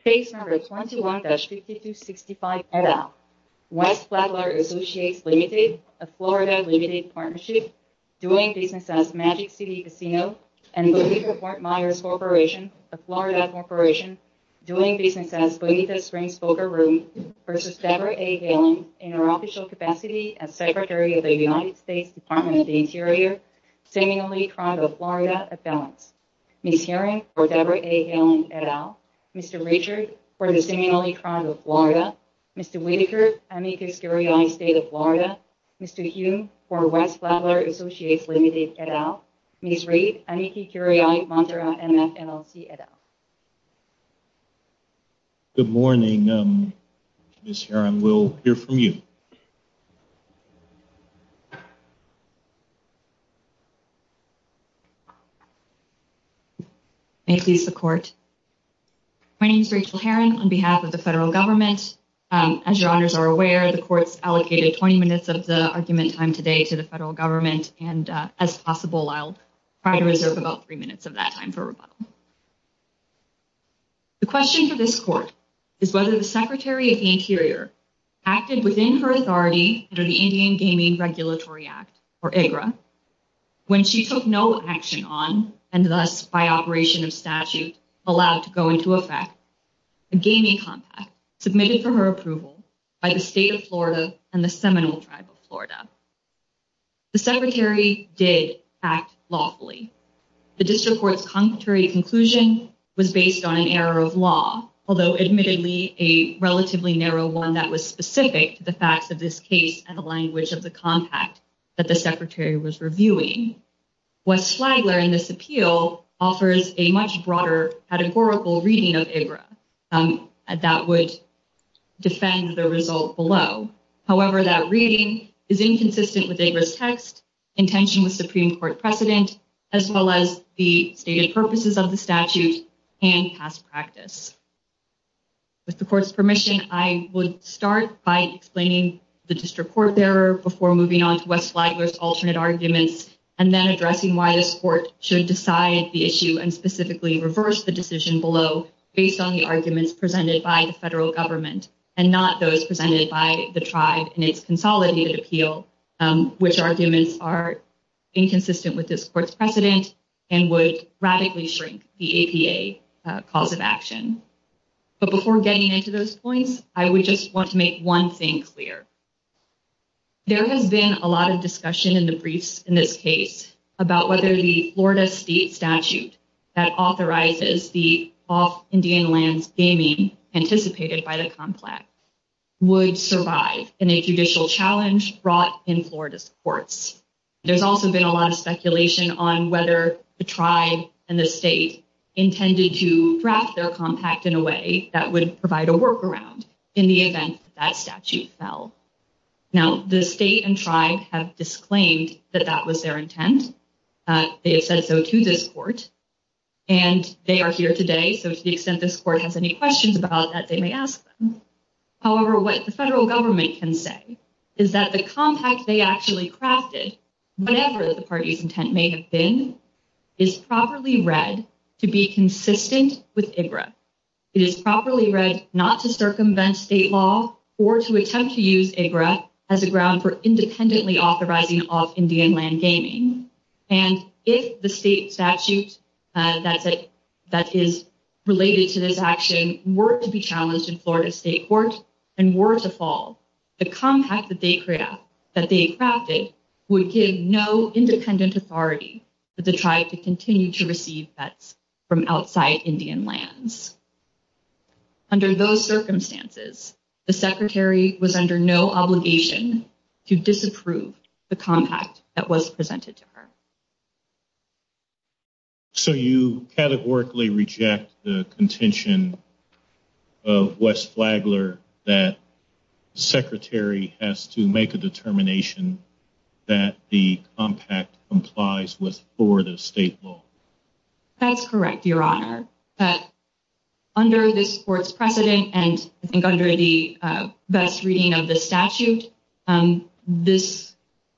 Space Numbers 121-6265, et al. West Flagler Associates, Ltd. of Florida, Ltd. Partnership doing business as Magic City Casino and Belize Fort Myers Corporation of Florida Corporation doing business as Belize Springs Folger Rooms v. Debra A. Haaland in her official capacity as Secretary of the United States Department of the Interior Miss Hearing for Debra A. Haaland, et al. Mr. Richard, for the seemingly Crown of Florida Mr. Whitaker, Amici Curiae State of Florida Mr. Hume, for West Flagler Associates, Ltd. et al. Ms. Reed, Amici Curiae, Montserrat, MN, LLC, et al. Good morning, Miss Hearing. We'll hear from you. May it please the Court. My name is Rachel Herons, on behalf of the Federal Government. As your Honors are aware, the Court has allocated 20 minutes of the argument time today to the Federal Government and as possible, I'll try to reserve about three minutes of that time for rebuttal. The question to this Court is whether the Secretary of the Interior acted within her authority under the Indian Gaming Regulatory Act, or IGRA when she took no action on, and thus by operation of statute, allowed to go into effect a gaming contract submitted for her approval by the State of Florida and the Seminole Tribe of Florida. The Secretary did act lawfully. The District Court's concrete conclusion was based on an error of law although admittedly a relatively narrow one that was specific to the fact that this case had the language of the compact that the Secretary was reviewing. What's Flagler in this appeal offers a much broader categorical reading of IGRA that would defend the result below. However, that reading is inconsistent with IGRA's text, in tension with Supreme Court precedent, as well as the stated purposes of the statute and past practice. With the Court's permission, I would start by explaining the District Court's error before moving on to what Flagler's alternate arguments, and then addressing why this Court should decide the issue and specifically reverse the decision below based on the arguments presented by the Federal Government and not those presented by the Tribe in its consolidated appeal, which arguments are inconsistent with this Court's precedent and would radically shrink the APA cause of action. But before getting into those points, I would just want to make one thing clear. There has been a lot of discussion in the briefs in this case about whether the Florida State statute that authorizes the off-Indian lands gaming anticipated by the complex would survive in a judicial challenge brought in Florida's courts. There's also been a lot of speculation on whether the Tribe and the State intended to draft their compact in a way that would provide a workaround in the event that statute fell. Now, the State and Tribe have disclaimed that that was their intent. They have said so to this Court. And they are here today, so to the extent this Court has any questions about that, they may ask them. However, what the Federal Government can say is that the compact they actually crafted, whatever the party's intent may have been, is properly read to be consistent with IGRA. It is properly read not to circumvent State law or to attempt to use IGRA as a ground for independently authorizing off-Indian land gaming. And if the State statute that is related to this action were to be challenged in Florida's State courts and were to fall, the compact that they crafted would give no independent authority for the Tribe to continue to receive bets from outside Indian lands. Under those circumstances, the Secretary was under no obligation to disapprove the compact that was presented to her. So you categorically reject the contention of Wes Flagler that the Secretary has to make a determination that the compact complies with Florida's State law. That's correct, Your Honor. Under this Court's precedent and under the best reading of the statute, the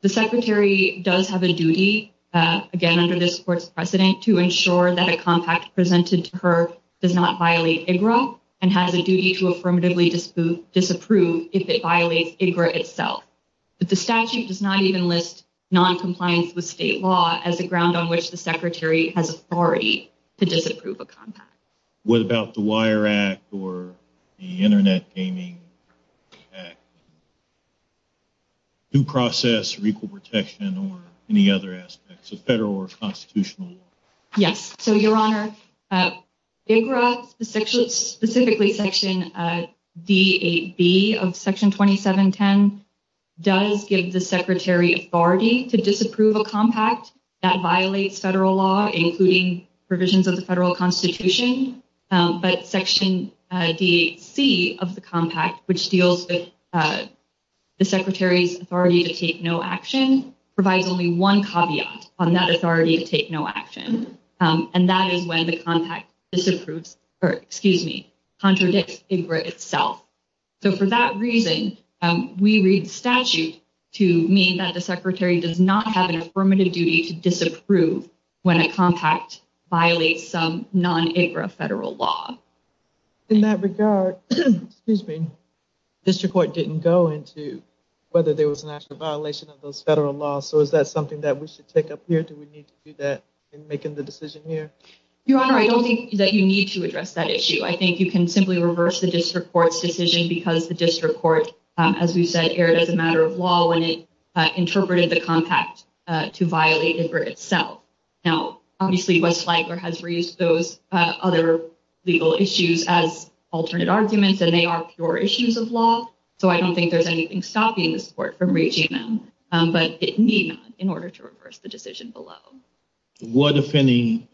Secretary does have a duty, again under this Court's precedent, to ensure that a compact presented to her does not violate IGRA and has a duty to affirmatively disapprove if it violates IGRA itself. But the statute does not even list noncompliance with State law as the ground on which the Secretary has authority to disapprove a compact. What about the Wire Act or the Internet Gaming Act? Due process, legal protection, or any other aspects of federal or constitutional law? Yes. So, Your Honor, IGRA, specifically Section D8B of Section 2710, does give the Secretary authority to disapprove a compact that violates federal law, including provisions of the federal constitution. But Section D8C of the compact, which deals with the Secretary's authority to take no action, provides only one caveat on that authority to take no action, and that is when the compact contradicts IGRA itself. So for that reason, we read the statute to mean that the Secretary does not have an affirmative duty to disapprove when a compact violates some non-IGRA federal law. In that regard, District Court didn't go into whether there was an actual violation of those federal laws, so is that something that we should take up here? Do we need to do that in making the decision here? Your Honor, I don't think that you need to address that issue. I think you can simply reverse the District Court's decision because the District Court, as we said, erred as a matter of law when it interpreted the compact to violate IGRA itself. Now, obviously, West Ligler has reused those other legal issues as alternate arguments, and they are pure issues of law, so I don't think there's anything stopping the Court from reaching them, but it needs in order to reverse the decision below. What, if any,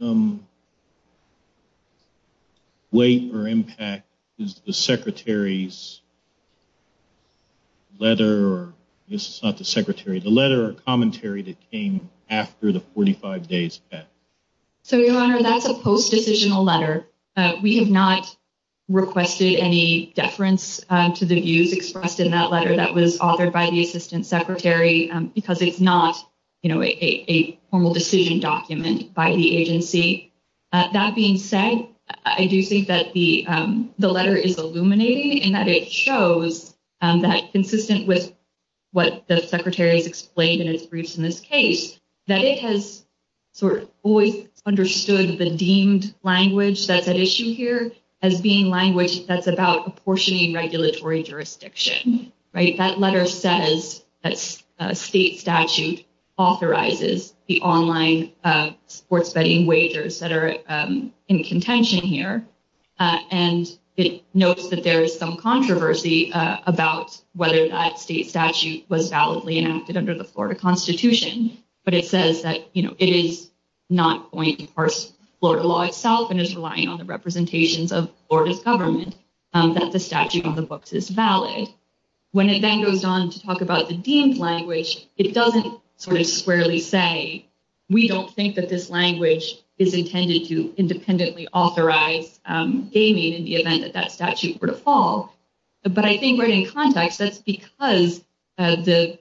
weight or impact is the Secretary's letter or commentary that came after the 45 days? So, Your Honor, that's a post-decisional letter. We have not requested any deference to the views expressed in that letter that was authored by the Assistant Secretary because it's not a formal decision document by the agency. That being said, I do think that the letter is illuminating in that it shows that, consistent with what the Secretary has explained in his briefs in this case, that it has sort of always understood the deemed language that's at issue here as being language that's about apportioning regulatory jurisdiction. That letter says that state statute authorizes the online sports betting wages that are in contention here, and it notes that there is some controversy about whether that state statute was validly enacted under the Florida Constitution, but it says that it is not going to enforce Florida law itself and is relying on the representations of Florida government that the statute on the books is valid. When it then goes on to talk about the deemed language, it doesn't sort of squarely say, we don't think that this language is intended to independently authorize gaming in the event that that statute were to fall. But I think right in context, that's because the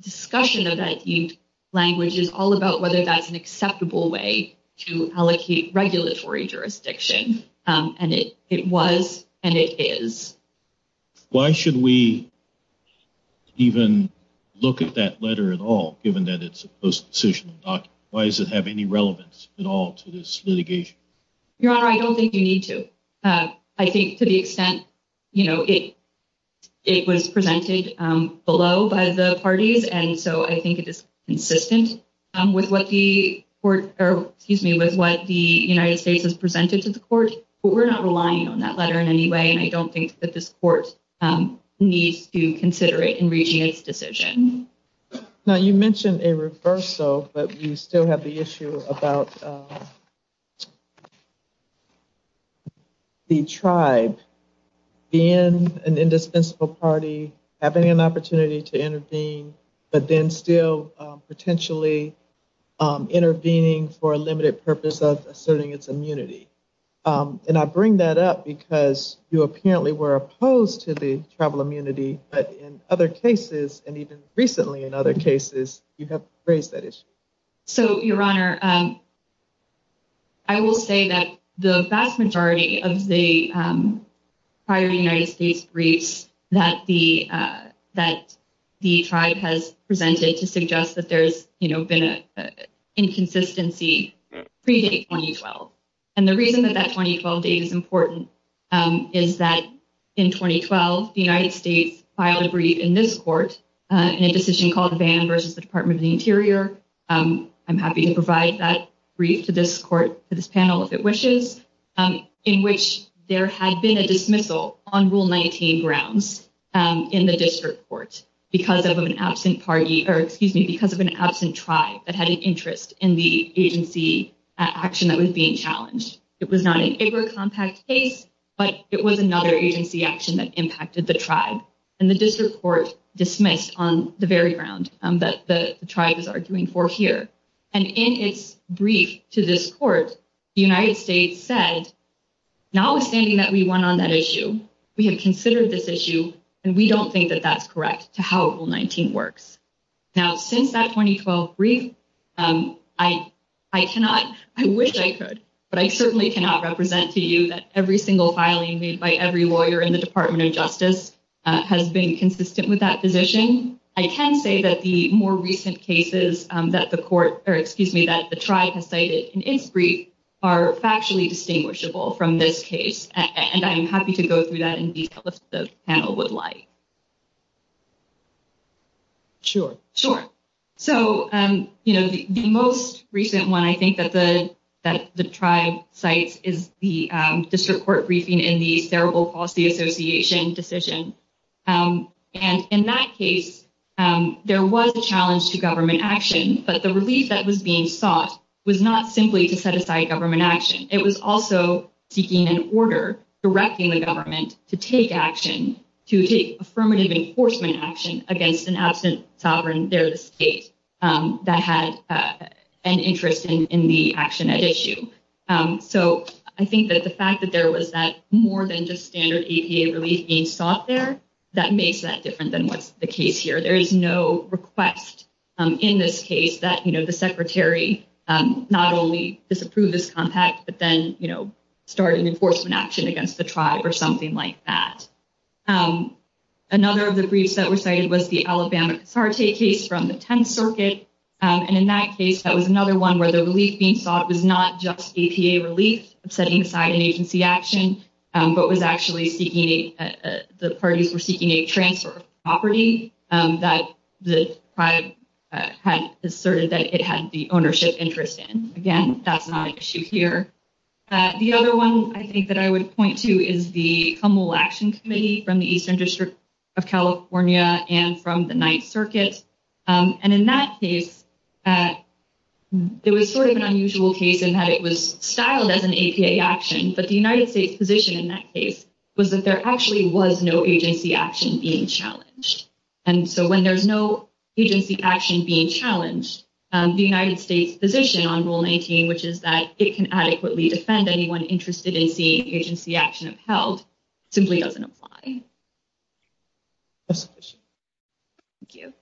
discussion of that deemed language is all about whether that's an acceptable way to allocate regulatory jurisdiction, and it was and it is. Why should we even look at that letter at all, given that it's a post-decision document? Why does it have any relevance at all to this litigation? Your Honor, I don't think you need to. I think to the extent, you know, it was presented below by the parties, and so I think it is consistent with what the United States has presented to the courts, but we're not relying on that letter in any way, and I don't think that this court needs to consider it in reaching a decision. Now, you mentioned a reversal, but you still have the issue about the tribe being an indispensable party, having an opportunity to intervene, but then still potentially intervening for a limited purpose of asserting its immunity. And I bring that up because you apparently were opposed to the tribal immunity, but in other cases, and even recently in other cases, you have raised that issue. So, Your Honor, I will say that the vast majority of the prior United States briefs that the tribe has presented to suggest that there's, you know, been an inconsistency predate 2012. And the reason that that 2012 date is important is that in 2012, the United States filed a brief in this court in a decision called Ban v. Department of the Interior. I'm happy to provide that brief to this panel if it wishes, in which there had been a dismissal on Rule 19 grounds in the district court because of an absent party, or excuse me, because of an absent tribe that had an interest in the agency action that was being challenged. It was not an IGLAA compact case, but it was another agency action that impacted the tribe. And the district court dismissed on the very grounds that the tribes are arguing for here. And in its brief to this court, the United States said, notwithstanding that we won on that issue, we have considered this issue, and we don't think that that's correct to how Rule 19 works. Now, since that 2012 brief, I cannot, I wish I could, but I certainly cannot represent to you that every single filing made by every lawyer in the Department of Justice has been consistent with that position. I can say that the more recent cases that the court, or excuse me, that the tribe has cited in its brief are factually distinguishable from this case, and I'm happy to go through that in detail if the panel would like. Sure. Sure. So, you know, the most recent one I think that the tribe cites is the district court briefing in the Cerebral Palsy Association decision. And in that case, there was a challenge to government action, but the relief that was being sought was not simply to set aside government action. It was also seeking an order directing the government to take action, to take affirmative enforcement action against an absent sovereign state that had an interest in the action at issue. So I think that the fact that there was that more than just standard EPA relief being sought there, that makes that different than what's the case here. There is no request in this case that, you know, the secretary not only disapprove this contact, but then, you know, start an enforcement action against the tribe or something like that. Another of the briefs that were cited was the Alabama apartheid case from the 10th Circuit. And in that case, that was another one where the relief being sought was not just EPA relief, setting aside agency action, but was actually seeking, the parties were seeking a transfer of property that the tribe had asserted that it had the ownership interest in. Again, that's not an issue here. The other one I think that I would point to is the Humble Action Committee from the Eastern District of California and from the 9th Circuit. And in that case, it was sort of an unusual case in that it was styled as an EPA action, but the United States' position in that case was that there actually was no agency action being challenged. And so when there's no agency action being challenged, the United States' position on Rule 19, which is that it can adequately defend anyone interested in seeing agency action upheld, simply doesn't apply. Thank you.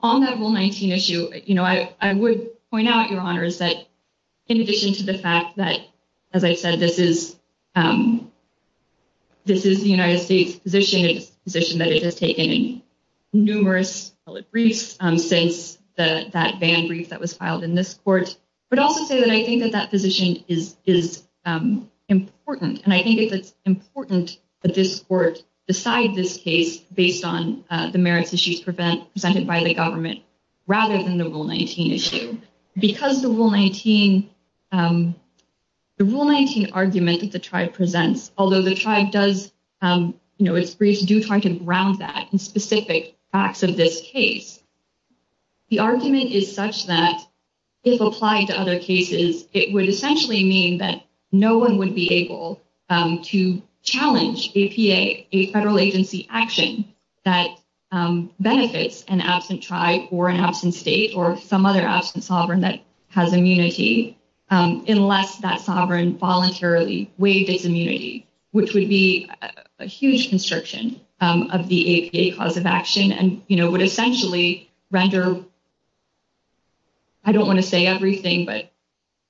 On that Rule 19 issue, I would point out, Your Honors, that in addition to the fact that, as I said, this is the United States' position that it has taken numerous briefs since that ban brief that was filed in this court. But I would also say that I think that that position is important. And I think it's important that this court decide this case based on the merits issues presented by the government rather than the Rule 19 issue. Because the Rule 19 argument that the tribe presents, although the tribe does, you know, its briefs do try to ground that in specific facts of this case, the argument is such that if applied to other cases, it would essentially mean that no one would be able to challenge APA, a federal agency action, that benefits an absent tribe or an absent state or some other absent sovereign that has immunity, unless that sovereign voluntarily waives its immunity, which would be a huge constriction of the APA cause of action and, you know, would essentially render, I don't want to say everything, but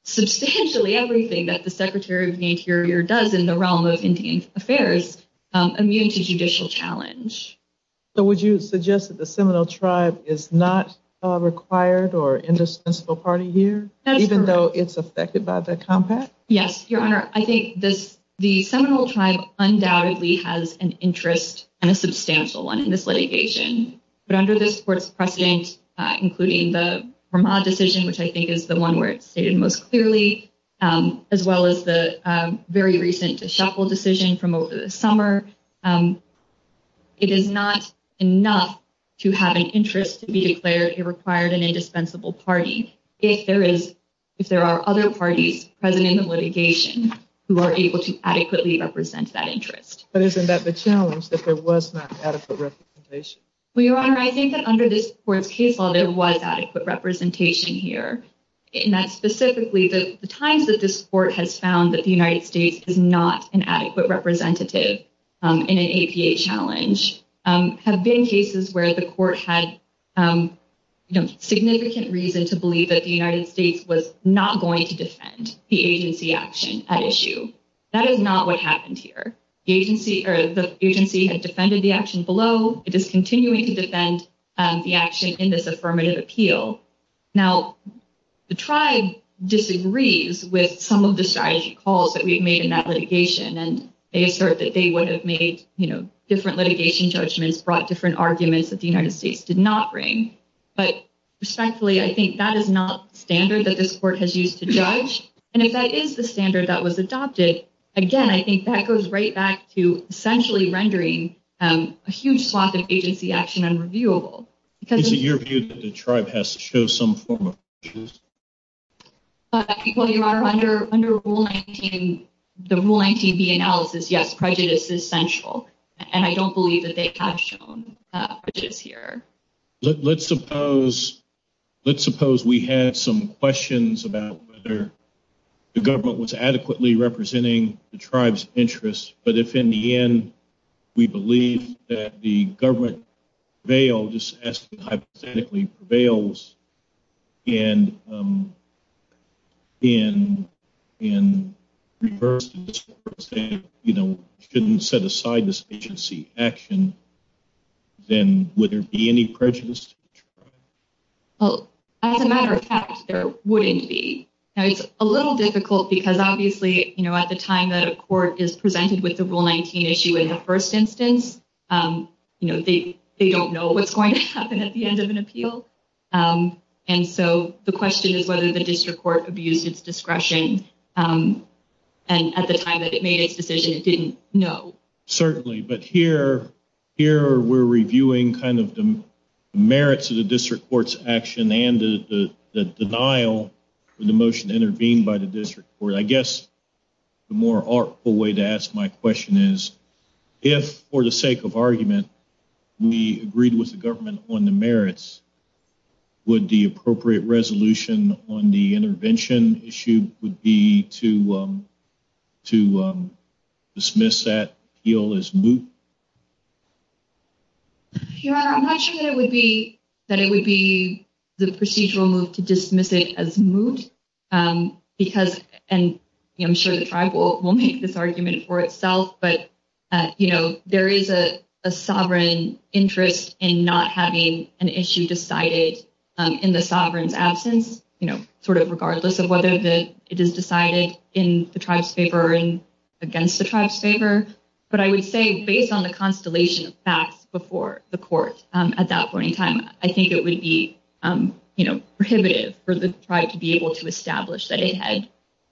substantially everything that the Secretary of the Interior does in the realm of Indian Affairs immune to judicial challenge. So would you suggest that the Seminole Tribe is not required or indispensable part of here, even though it's affected by the compact? Yes, Your Honor, I think the Seminole Tribe undoubtedly has an interest and a substantial one in this litigation. But under this court's precedent, including the Verma decision, which I think is the one where it's stated most clearly, as well as the very recent DeShackle decision from over the summer, it is not enough to have an interest to be declared a required and indispensable party. If there are other parties present in the litigation who are able to adequately represent that interest. But isn't that the challenge, that there was not adequate representation? Well, Your Honor, I think that under this court's case law, there was adequate representation here, and that specifically the times that this court has found that the United States is not an adequate representative in an APA challenge have been cases where the court had significant reason to believe that the United States was not going to defend the agency action at issue. That is not what happened here. The agency has defended the action below. It is continuing to defend the action in this affirmative appeal. Now, the tribe disagrees with some of the calls that we've made in that litigation, and they assert that they would have made different litigation judgments, brought different arguments that the United States did not bring. But respectfully, I think that is not standard that this court has used to judge. And if that is the standard that was adopted, again, I think that goes right back to essentially rendering a huge swath of agency action unreviewable. Is it your view that the tribe has to show some form of refusal? Well, Your Honor, under the Rule 19B analysis, yes, prejudice is essential, and I don't believe that they have shown prejudice here. Let's suppose we had some questions about whether the government was adequately representing the tribe's interests, but if, in the end, we believe that the government prevails, as it hypothetically prevails, and in reverse, for example, shouldn't set aside this agency action, then would there be any prejudice? Well, as a matter of fact, there wouldn't be. Now, it's a little difficult because, obviously, at the time that a court is presented with the Rule 19 issue in the first instance, they don't know what's going to happen at the end of an appeal. And so the question is whether the district court abused its discretion at the time that it made its decision. It didn't know. Certainly, but here we're reviewing kind of the merits of the district court's action and the denial of the motion intervened by the district court. I guess the more artful way to ask my question is, if, for the sake of argument, we agreed with the government on the merits, would the appropriate resolution on the intervention issue be to dismiss that appeal as moot? Your Honor, I'm not sure that it would be the procedural move to dismiss it as moot because, and I'm sure the tribe will make this argument for itself, but, you know, there is a sovereign interest in not having an issue decided in the sovereign's absence, you know, sort of regardless of whether it is decided in the tribe's favor or against the tribe's favor. But I would say, based on the constellation passed before the court at that point in time, I think it would be prohibitive for the tribe to be able to establish that it had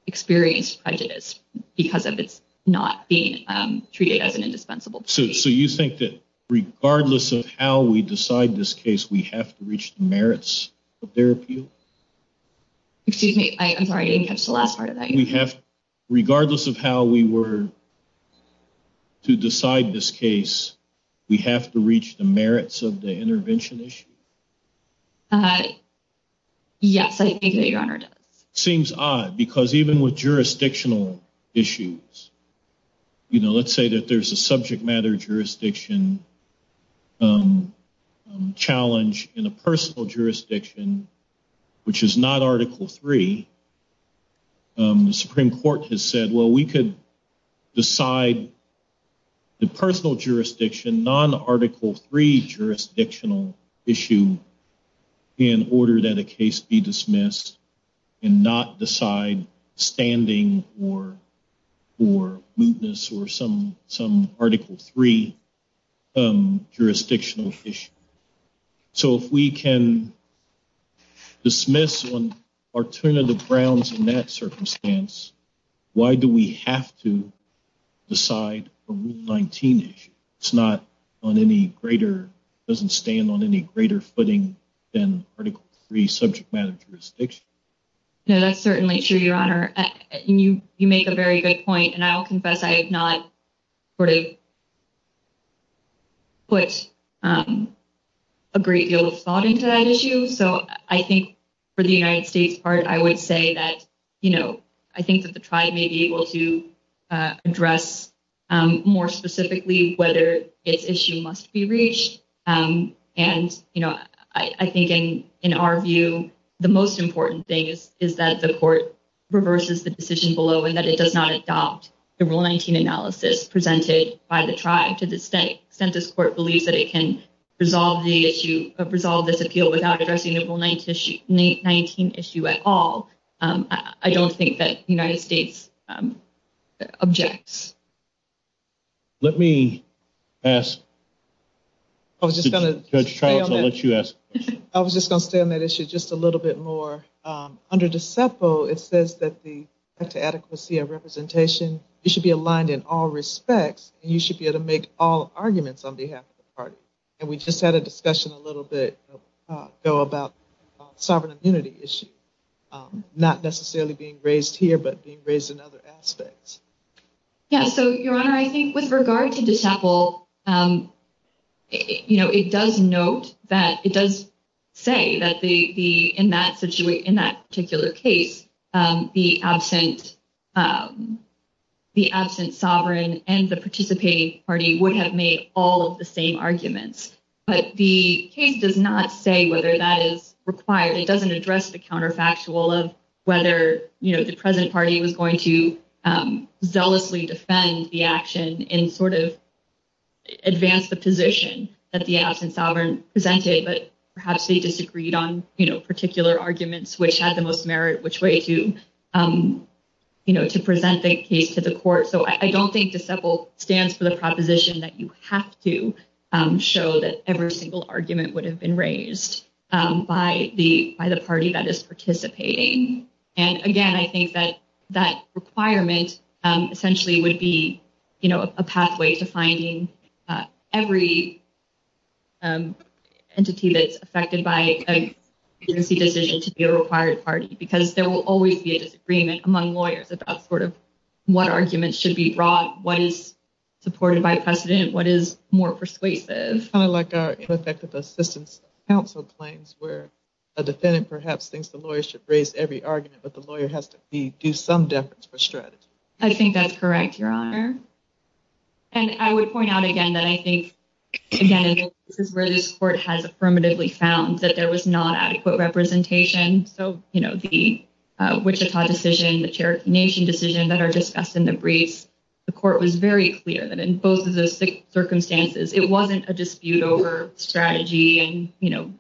experienced prejudice because of it not being treated as an indispensable case. So you think that regardless of how we decide this case, we have to reach the merits of their appeal? Excuse me, I'm sorry, I didn't catch the last part of that. Regardless of how we were to decide this case, we have to reach the merits of the intervention issue? Yes, I think that Your Honor. Seems odd because even with jurisdictional issues, you know, let's say that there's a subject matter jurisdiction challenge in a personal jurisdiction, which is not Article III, the Supreme Court has said, well, we could decide the personal jurisdiction non-Article III jurisdictional issue in order that a case be dismissed and not decide standing or mootness or some Article III jurisdictional issue. So if we can dismiss or turn to the Browns in that circumstance, why do we have to decide a Rule 19 issue? It's not on any greater, doesn't stand on any greater footing than Article III subject matter jurisdiction. That's certainly true, Your Honor. You make a very good point. And I will confess I have not put a great deal of thought into that issue. So I think for the United States part, I would say that, you know, I think that the tribe may be able to address more specifically whether the issue must be reached. And, you know, I think in our view, the most important thing is that the court reverses the decision below and that it does not adopt the Rule 19 analysis presented by the tribe to the state. Census Court believes that it can resolve the issue of resolve this appeal without addressing the Rule 19 issue at all. I don't think that United States objects. Let me ask Judge Travis, I'll let you ask the question. I was just going to say on that issue just a little bit more. Under DECEFO, it says that the adequacy of representation, it should be aligned in all respects, and you should be able to make all arguments on behalf of the party. And we just had a discussion a little bit ago about sovereign immunity issue, not necessarily being raised here but being raised in other aspects. Yeah, so, Your Honor, I think with regard to DECEFO, you know, it does note that, it does say that in that particular case, the absent sovereign and the participating party would have made all of the same arguments. But the case does not say whether that is required. It doesn't address the counterfactual of whether, you know, the present party was going to zealously defend the action and sort of advance the position that the absent sovereign presented. But perhaps they disagreed on, you know, particular arguments which had the most merit, which way to, you know, to present the case to the court. So, I don't think DECEFO stands for the proposition that you have to show that every single argument would have been raised by the party that is participating. And again, I think that that requirement essentially would be, you know, a pathway to finding every entity that's affected by a decision to be a required party. Because there will always be a disagreement among lawyers about sort of what arguments should be brought, what is supported by precedent, what is more persuasive. It's kind of like a coeffective assistance counsel claims where a defendant perhaps thinks the lawyer should raise every argument, but the lawyer has to do some deference or strategy. I think that's correct, Your Honor. And I would point out again that I think, again, this is where this court has affirmatively found that there was not adequate representation. And so, you know, the Wichita decision, the Cherokee Nation decision that are discussed in the brief, the court was very clear that in both of those circumstances, it wasn't a dispute over strategy and, you know,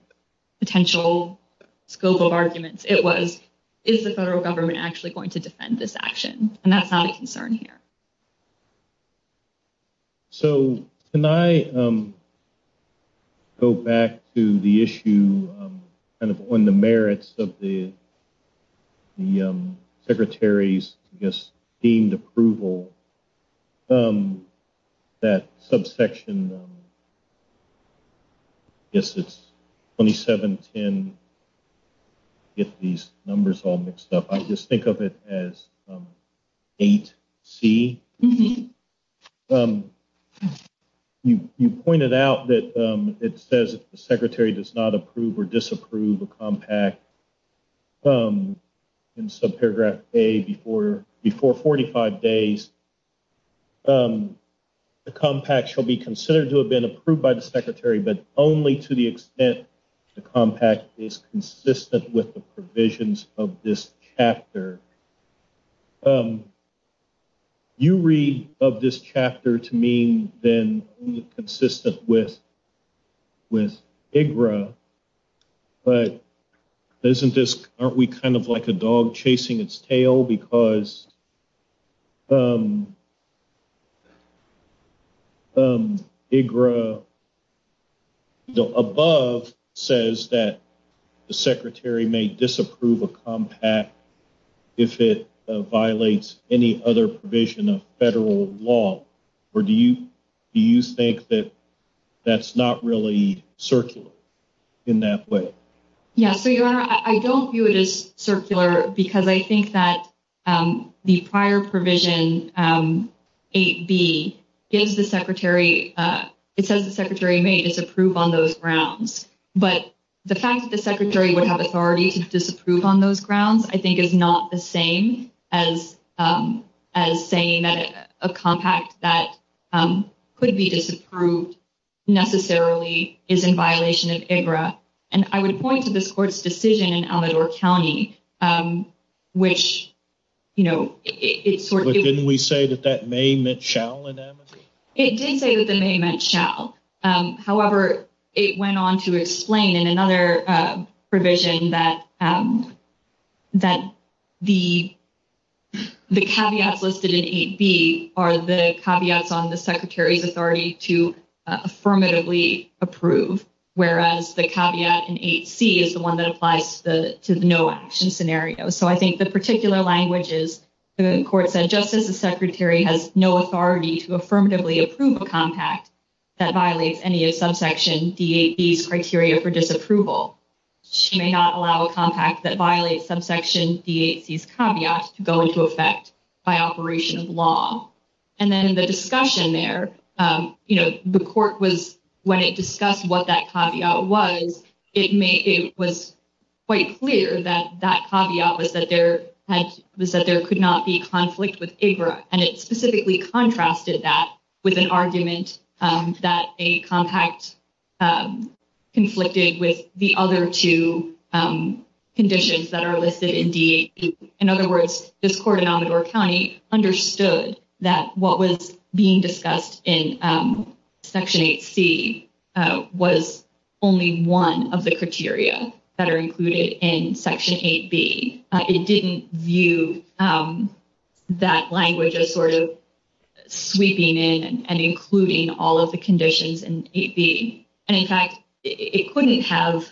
potential scope of arguments. It was, is the federal government actually going to defend this action? And that's our concern here. So can I go back to the issue kind of on the merits of the Secretary's, I guess, deemed approval that subsection, I guess it's 2710, get these numbers all mixed up, I'll just think of it as 8C. You pointed out that it says the Secretary does not approve or disapprove a compact in subparagraph A before 45 days. The compact shall be considered to have been approved by the Secretary, but only to the extent the compact is consistent with the provisions of this chapter. You read of this chapter to mean then consistent with IGRA, but isn't this, aren't we kind of like a dog chasing its tail? Because IGRA above says that the Secretary may disapprove a compact if it violates any other provision of federal law. Or do you, do you think that that's not really circular in that way? Yeah, I don't view it as circular because I think that the prior provision 8B gives the Secretary, it says the Secretary may disapprove on those grounds. But the fact that the Secretary would have authority to disapprove on those grounds, I think is not the same as saying that a compact that could be disapproved necessarily is in violation of IGRA. And I would point to this Court's decision in Almedore County, which, you know, it's sort of... But didn't we say that that may meant shall in that? It did say that the may meant shall. However, it went on to explain in another provision that the caveats listed in 8B are the caveats on the Secretary's authority to affirmatively approve. Whereas the caveat in 8C is the one that applies to the no action scenario. So I think the particular language is the Court said just as the Secretary has no authority to affirmatively approve a compact that violates any of subsection D8C's criteria for disapproval. She may not allow a compact that violates subsection D8C's caveats to go into effect by operation of law. And then the discussion there, you know, the Court was... When it discussed what that caveat was, it was quite clear that that caveat was that there could not be conflict with IGRA. And it specifically contrasted that with an argument that a compact conflicted with the other two conditions that are listed in D8C. In other words, this Court in Honorable County understood that what was being discussed in Section 8C was only one of the criteria that are included in Section 8B. It didn't view that language as sort of sweeping in and including all of the conditions in 8B. And in fact, it couldn't have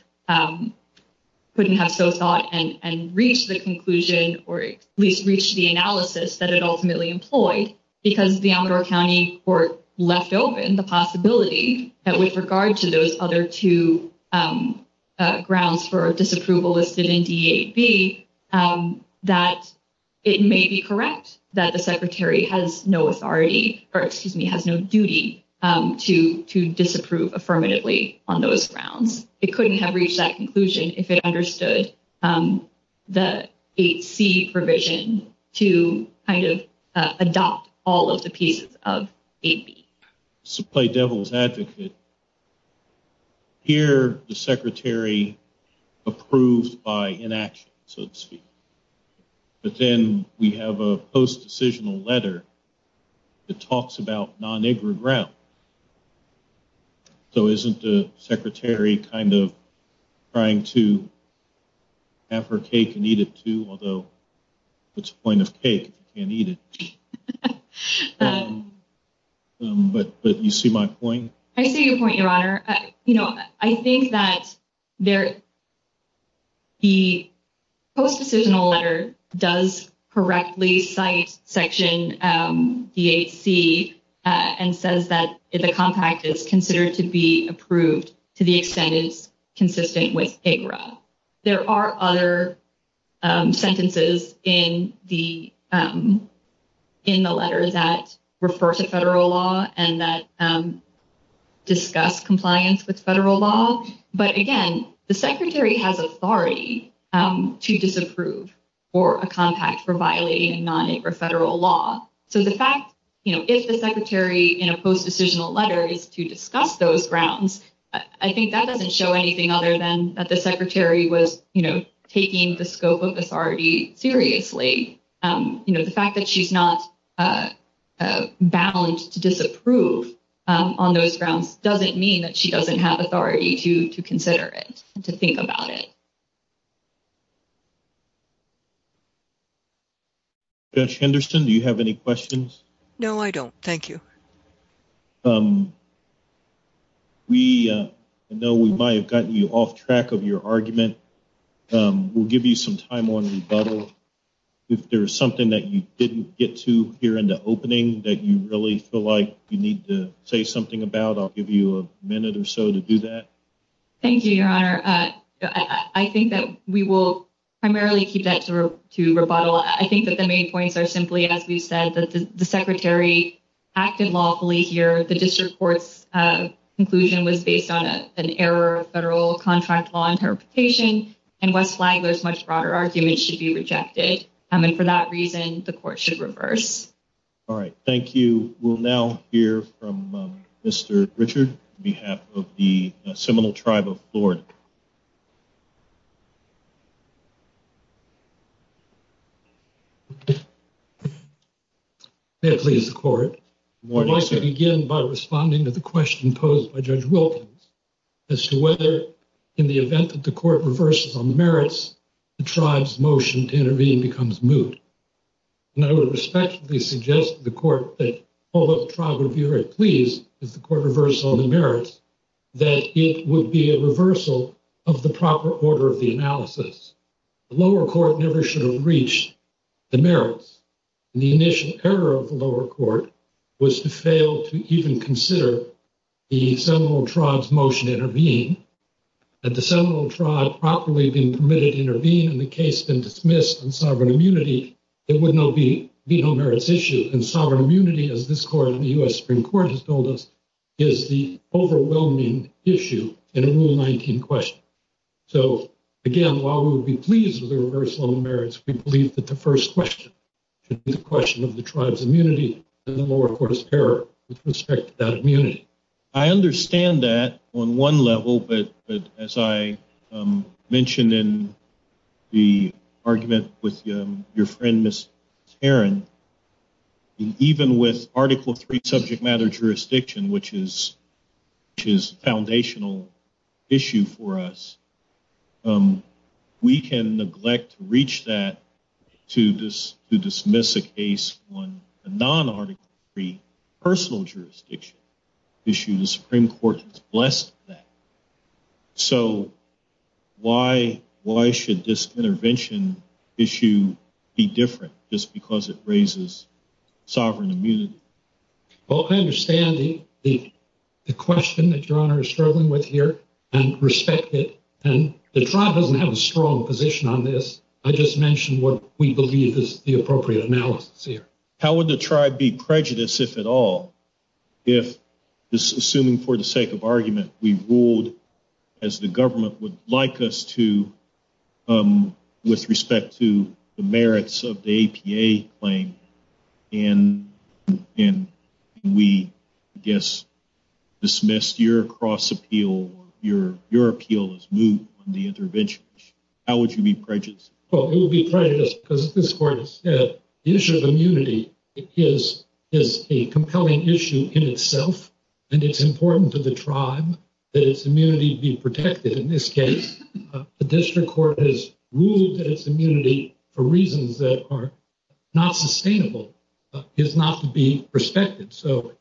so thought and reached the conclusion or at least reached the analysis that it ultimately employed. Because the Honorable County Court left open the possibility that with regard to those other two grounds for disapproval listed in D8B, that it may be correct that the Secretary has no authority, or excuse me, has no duty to disapprove affirmatively on those grounds. It couldn't have reached that conclusion if it understood the 8C provision to kind of adopt all of the pieces of 8B. Supply Devil's Advocate, here the Secretary approved by inaction, so to speak. But then we have a post-decisional letter that talks about non-IGRA ground. So isn't the Secretary kind of trying to have her cake and eat it too, although it's a point of cake, you can't eat it. But you see my point? I see your point, Your Honor. You know, I think that the post-decisional letter does correctly cite Section D8C and says that the contract is considered to be approved to the extent it's consistent with IGRA. There are other sentences in the letter that refer to federal law and that discuss compliance with federal law. But again, the Secretary has authority to disapprove for a contract for violating non-IGRA federal law. So the fact, you know, if the Secretary in a post-decisional letter is to discuss those grounds, I think that doesn't show anything other than that the Secretary was, you know, taking the scope of authority seriously. You know, the fact that she's not bound to disapprove on those grounds doesn't mean that she doesn't have authority to consider it, to think about it. Judge Henderson, do you have any questions? No, I don't. Thank you. We know we might have gotten you off track of your argument. We'll give you some time on rebuttal. If there's something that you didn't get to here in the opening that you really feel like you need to say something about, I'll give you a minute or so to do that. Thank you, Your Honor. I think that we will primarily keep that to rebuttal. I think that the main points are simply, as we've said, that the Secretary acted lawfully here. The district court's conclusion was based on an error of federal contract law interpretation, and one flag was much broader arguments should be rejected. And for that reason, the court should reverse. All right. Thank you. We will now hear from Mr. Richard on behalf of the Seminole Tribe of Florida. May it please the Court. I'd like to begin by responding to the question posed by Judge Wilkins as to whether, in the event that the Court reverses on the merits, the Tribe's motion to intervene becomes moot. And I would respectfully suggest to the Court that, although the Tribe would be very pleased if the Court reversed on the merits, that it would be a reversal of the proper order of the analysis. The lower court never should have reached the merits, and the initial error of the lower court was to fail to even consider the Seminole Tribe's motion to intervene. Had the Seminole Tribe properly been committed to intervene in the case and dismissed on sovereign immunity, it would not be a merits issue. And sovereign immunity, as this Court and the U.S. Supreme Court has told us, is the overwhelming issue in a Rule 19 question. So, again, while we would be pleased if they reversed on the merits, we believe that the first question should be the question of the Tribe's immunity, and the lower court's error with respect to that immunity. I understand that on one level, but as I mentioned in the argument with your friend Ms. Tarrin, even with Article III subject matter jurisdiction, which is a foundational issue for us, we can neglect to reach that to dismiss a case on a non-Article III personal jurisdiction. The Supreme Court is blessed with that. So, why should this intervention issue be different just because it raises sovereign immunity? Well, I understand the question that your Honor is struggling with here and respect it, and the Tribe doesn't have a strong position on this. I just mentioned what we believe is the appropriate analysis here. How would the Tribe be prejudiced, if at all, if, assuming for the sake of argument, we ruled as the government would like us to with respect to the merits of the APA claim, and we, I guess, dismissed your cross-appeal or your appeal as new on the intervention? How would you be prejudiced? Well, we would be prejudiced because, as this Court has said, the issue of immunity is a compelling issue in itself, and it's important to the Tribe that its immunity be protected in this case. The District Court has ruled that its immunity, for reasons that are not sustainable, is not to be respected. So,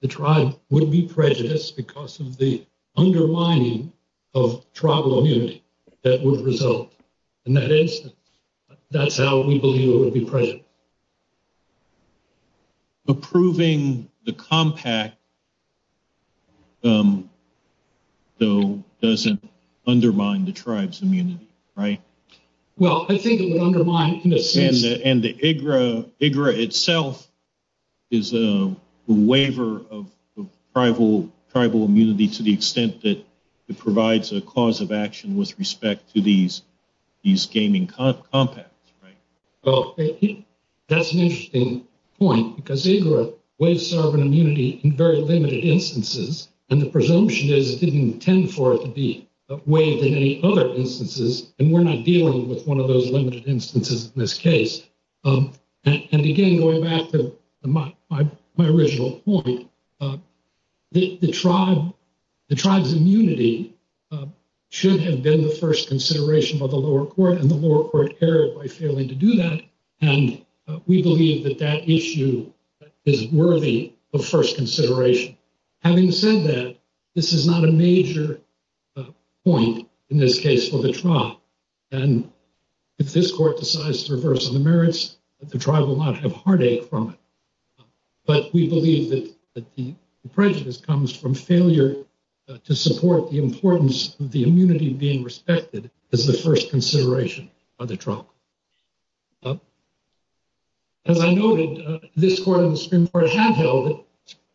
the Tribe would be prejudiced because of the undermining of Tribal immunity that would result. In that instance, that's how we believe it would be prejudiced. Approving the compact, though, doesn't undermine the Tribe's immunity, right? Well, I think it would undermine it in this case. And the IGRA itself is a waiver of Tribal immunity to the extent that it provides a cause of action with respect to these gaming compacts, right? That's an interesting point, because IGRA waives Tribal immunity in very limited instances, and the presumption is it didn't intend for it to be waived in any other instances, and we're not dealing with one of those limited instances in this case. And again, going back to my original point, the Tribe's immunity should have been the first consideration by the lower court, and the lower court carried by failing to do that, and we believe that that issue is worthy of first consideration. Having said that, this is not a major point in this case for the Tribe. And if this court decides to reverse the merits, the Tribe will not have heartache from it. But we believe that the prejudice comes from failure to support the importance of the immunity being respected as the first consideration by the Tribe. As I noted, this court and the Supreme Court have held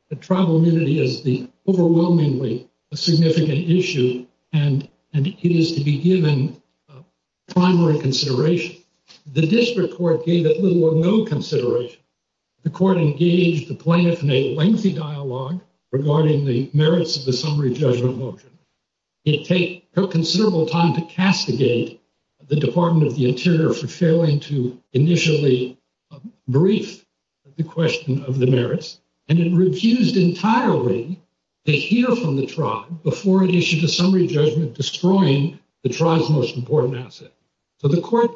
that Tribal immunity is the overwhelmingly significant issue, and it is to be given primary consideration. The district court gave it little or no consideration. The court engaged the plaintiff in a lengthy dialogue regarding the merits of the summary judgment motion. It took considerable time to castigate the Department of the Interior for failing to initially brief the question of the merits, and it refused entirely to hear from the Tribe before it issued a summary judgment destroying the Tribe's most important asset. So the court,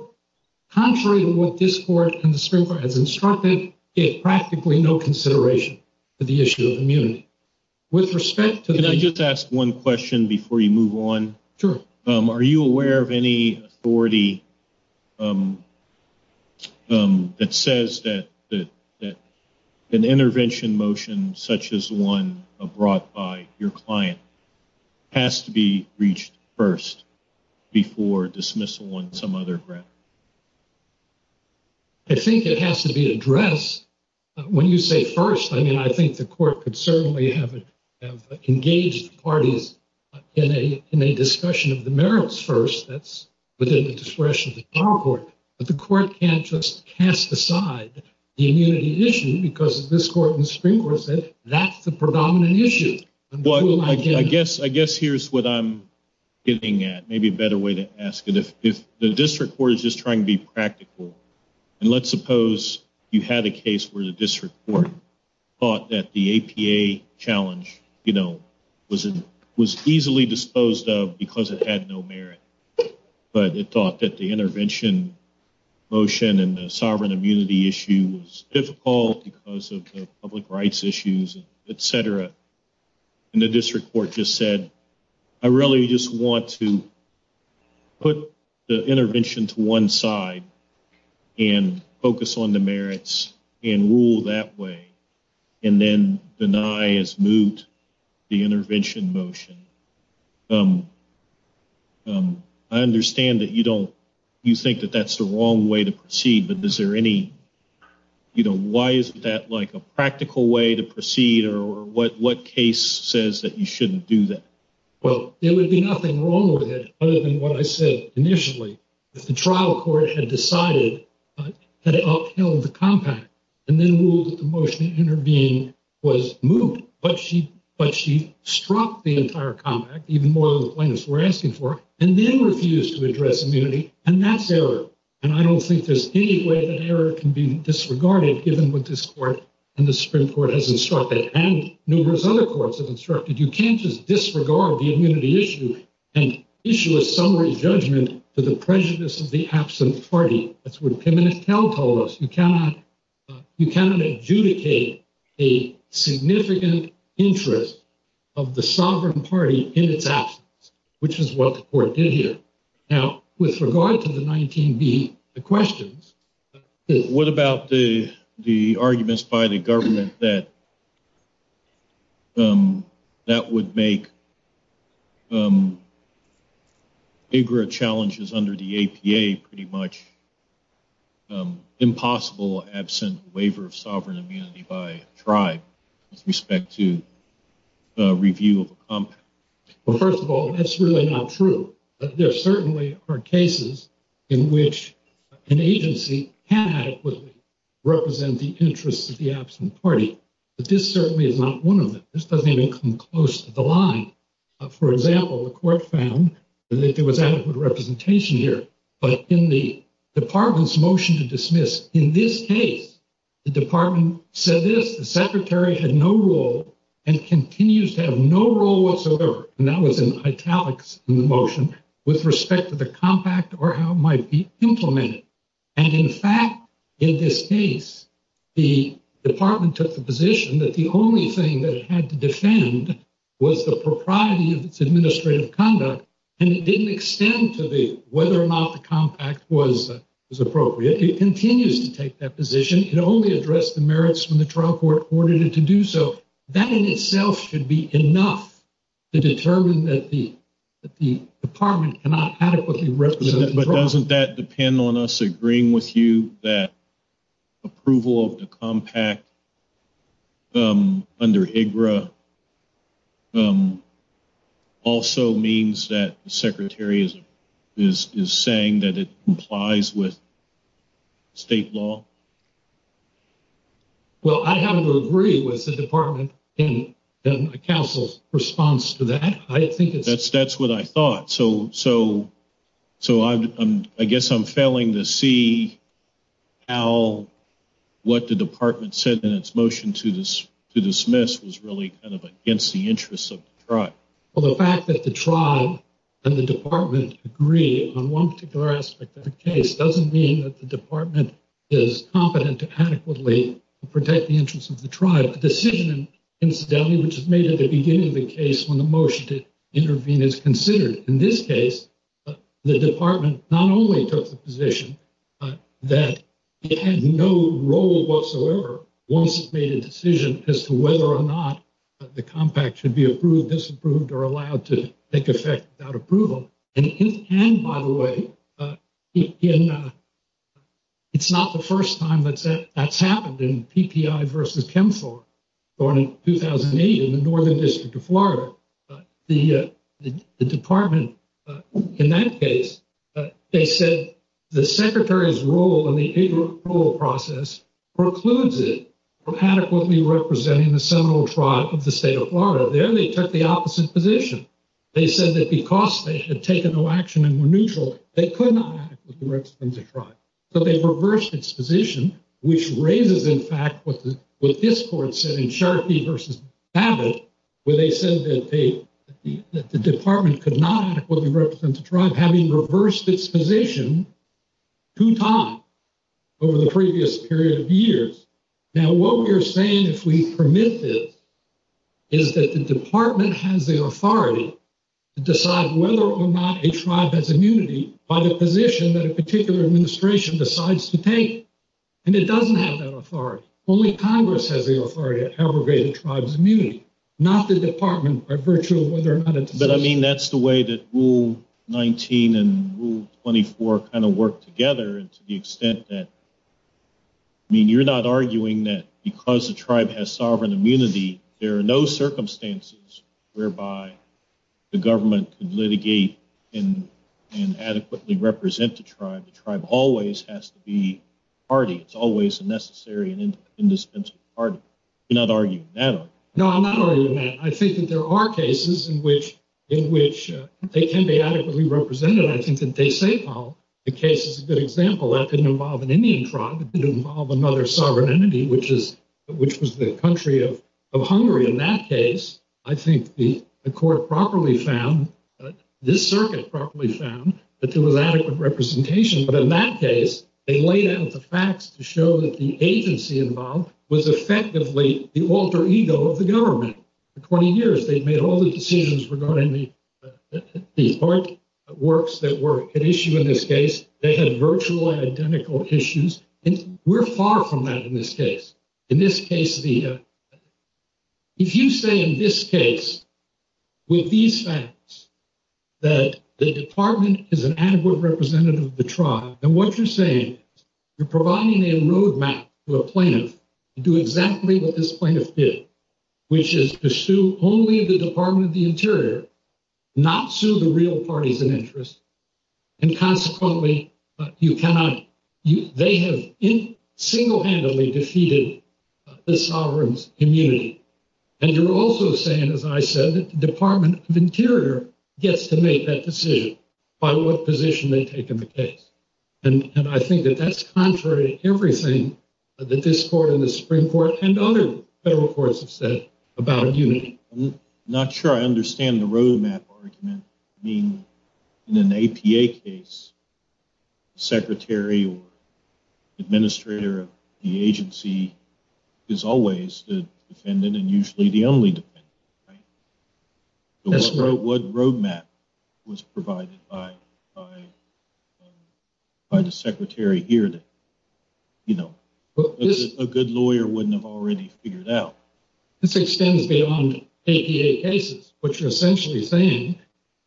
contrary to what this court and the Supreme Court have instructed, gave practically no consideration to the issue of immunity. Can I just ask one question before you move on? Sure. Are you aware of any authority that says that an intervention motion such as the one brought by your client has to be reached first before dismissal on some other grounds? I think it has to be addressed when you say first. I mean, I think the court could certainly have engaged the parties in a discussion of the merits first. That's within the discretion of the power court. But the court can't just cast aside the immunity issue because this court and the Supreme Court said that's the predominant issue. Well, I guess here's what I'm getting at. Maybe a better way to ask it. If the district court is just trying to be practical, and let's suppose you had a case where the district court thought that the APA challenge was easily disposed of because it had no merit, but it thought that the intervention motion and the sovereign immunity issue was difficult because of the public rights issues, et cetera, and the district court just said, I really just want to put the intervention to one side and focus on the merits and rule that way, and then deny as moot the intervention motion. I understand that you think that that's the wrong way to proceed. Why isn't that a practical way to proceed, or what case says that you shouldn't do that? Well, there would be nothing wrong with it other than what I said initially. If the trial court had decided that it upheld the compact and then ruled that the motion to intervene was moot, but she struck the entire compact, even more than the plaintiffs were asking for, and then refused to address immunity, and that's error. And I don't think there's any way that error can be disregarded, given what this court and the district court has instructed, and numerous other courts have instructed. You can't just disregard the immunity issue and issue a summary judgment for the prejudice of the absent party. That's what Pim and McHale called us. You cannot adjudicate a significant interest of the sovereign party in its absence, which is what the court did here. Now, with regard to the 19B, the question is- What about the arguments by the government that that would make bigger challenges under the APA pretty much impossible, absent waiver of sovereign immunity by a tribe, with respect to review of a compact? Well, first of all, that's really not true. There certainly are cases in which an agency can adequately represent the interests of the absent party. But this certainly is not one of them. This doesn't even come close to the line. For example, the court found that there was adequate representation here. But in the department's motion to dismiss, in this case, the department said this, that the secretary had no role and continues to have no role whatsoever, and that was in italics in the motion, with respect to the compact or how it might be implemented. And, in fact, in this case, the department took the position that the only thing that it had to defend was the propriety of its administrative conduct, and it didn't extend to whether or not the compact was appropriate. It continues to take that position. And it can only address the merits when the trial court ordered it to do so. That in itself should be enough to determine that the department cannot adequately represent the tribe. But doesn't that depend on us agreeing with you that approval of the compact under HEDRA also means that the secretary is saying that it complies with state law? Well, I have to agree with the department in the council's response to that. That's what I thought. So I guess I'm failing to see how what the department said in its motion to dismiss was really kind of against the interests of the tribe. Well, the fact that the tribe and the department agree on one particular aspect of the case doesn't mean that the department is competent to adequately protect the interests of the tribe. The decision, incidentally, which is made at the beginning of the case when the motion to intervene is considered, in this case, the department not only took the position that it had no role whatsoever once it made a decision as to whether or not the compact should be approved, disapproved, or allowed to take effect without approval. And it can, by the way. It's not the first time that that's happened in PPI versus CHEMFOR. In 2008 in the Northern District of Florida, the department, in that case, they said the secretary's role in the HEDRA approval process precludes it from adequately representing the Seminole tribe of the state of Florida. There they took the opposite position. They said that because they should have taken no action and were neutral, they could not adequately represent the tribe. So they reversed its position, which raises, in fact, what this court said in Sharkey versus Saville, where they said that the department could not adequately represent the tribe, having reversed its position two times over the previous period of years. Now, what we are saying, if we permit this, is that the department has the authority to decide whether or not a tribe has immunity by the position that a particular administration decides to take. And it doesn't have that authority. Only Congress has the authority to abrogate a tribe's immunity, not the department by virtue of whether or not it's But, I mean, that's the way that Rule 19 and Rule 24 kind of work together to the extent that, I mean, you're not arguing that because the tribe has sovereign immunity, there are no circumstances whereby the government can litigate and adequately represent the tribe. The tribe always has to be a party. It's always a necessary and indispensable party. You're not arguing that. No, I'm not arguing that. I think that there are cases in which they can be adequately represented. I think that they say, well, the case is a good example. That didn't involve an Indian tribe. It didn't involve another sovereign entity, which was the country of Hungary. In that case, I think the court properly found, this circuit properly found, that there was adequate representation. But in that case, they laid out the facts to show that the agency involved was effectively the alter ego of the government. In 20 years, they've made all these decisions regarding the artworks that were issued in this case. They had virtual identical issues, and we're far from that in this case. In this case, if you say in this case, with these facts, that the department is an adequate representative of the tribe, then what you're saying is you're providing a roadmap to a plaintiff to do exactly what this plaintiff did, which is to sue only the Department of the Interior, not sue the real parties in interest. And consequently, you cannot. They have single-handedly defeated the sovereign's immunity. And you're also saying, as I said, the Department of the Interior gets to make that decision by what position they take in the case. And I think that that's contrary to everything that this court and the Supreme Court and other federal courts have said about immunity. I'm not sure I understand the roadmap argument. I mean, in an APA case, secretary or administrator of the agency is always the dependent and usually the only dependent, right? What roadmap was provided by the secretary here that, you know, a good lawyer wouldn't have already figured out? This extends beyond APA cases. What you're essentially saying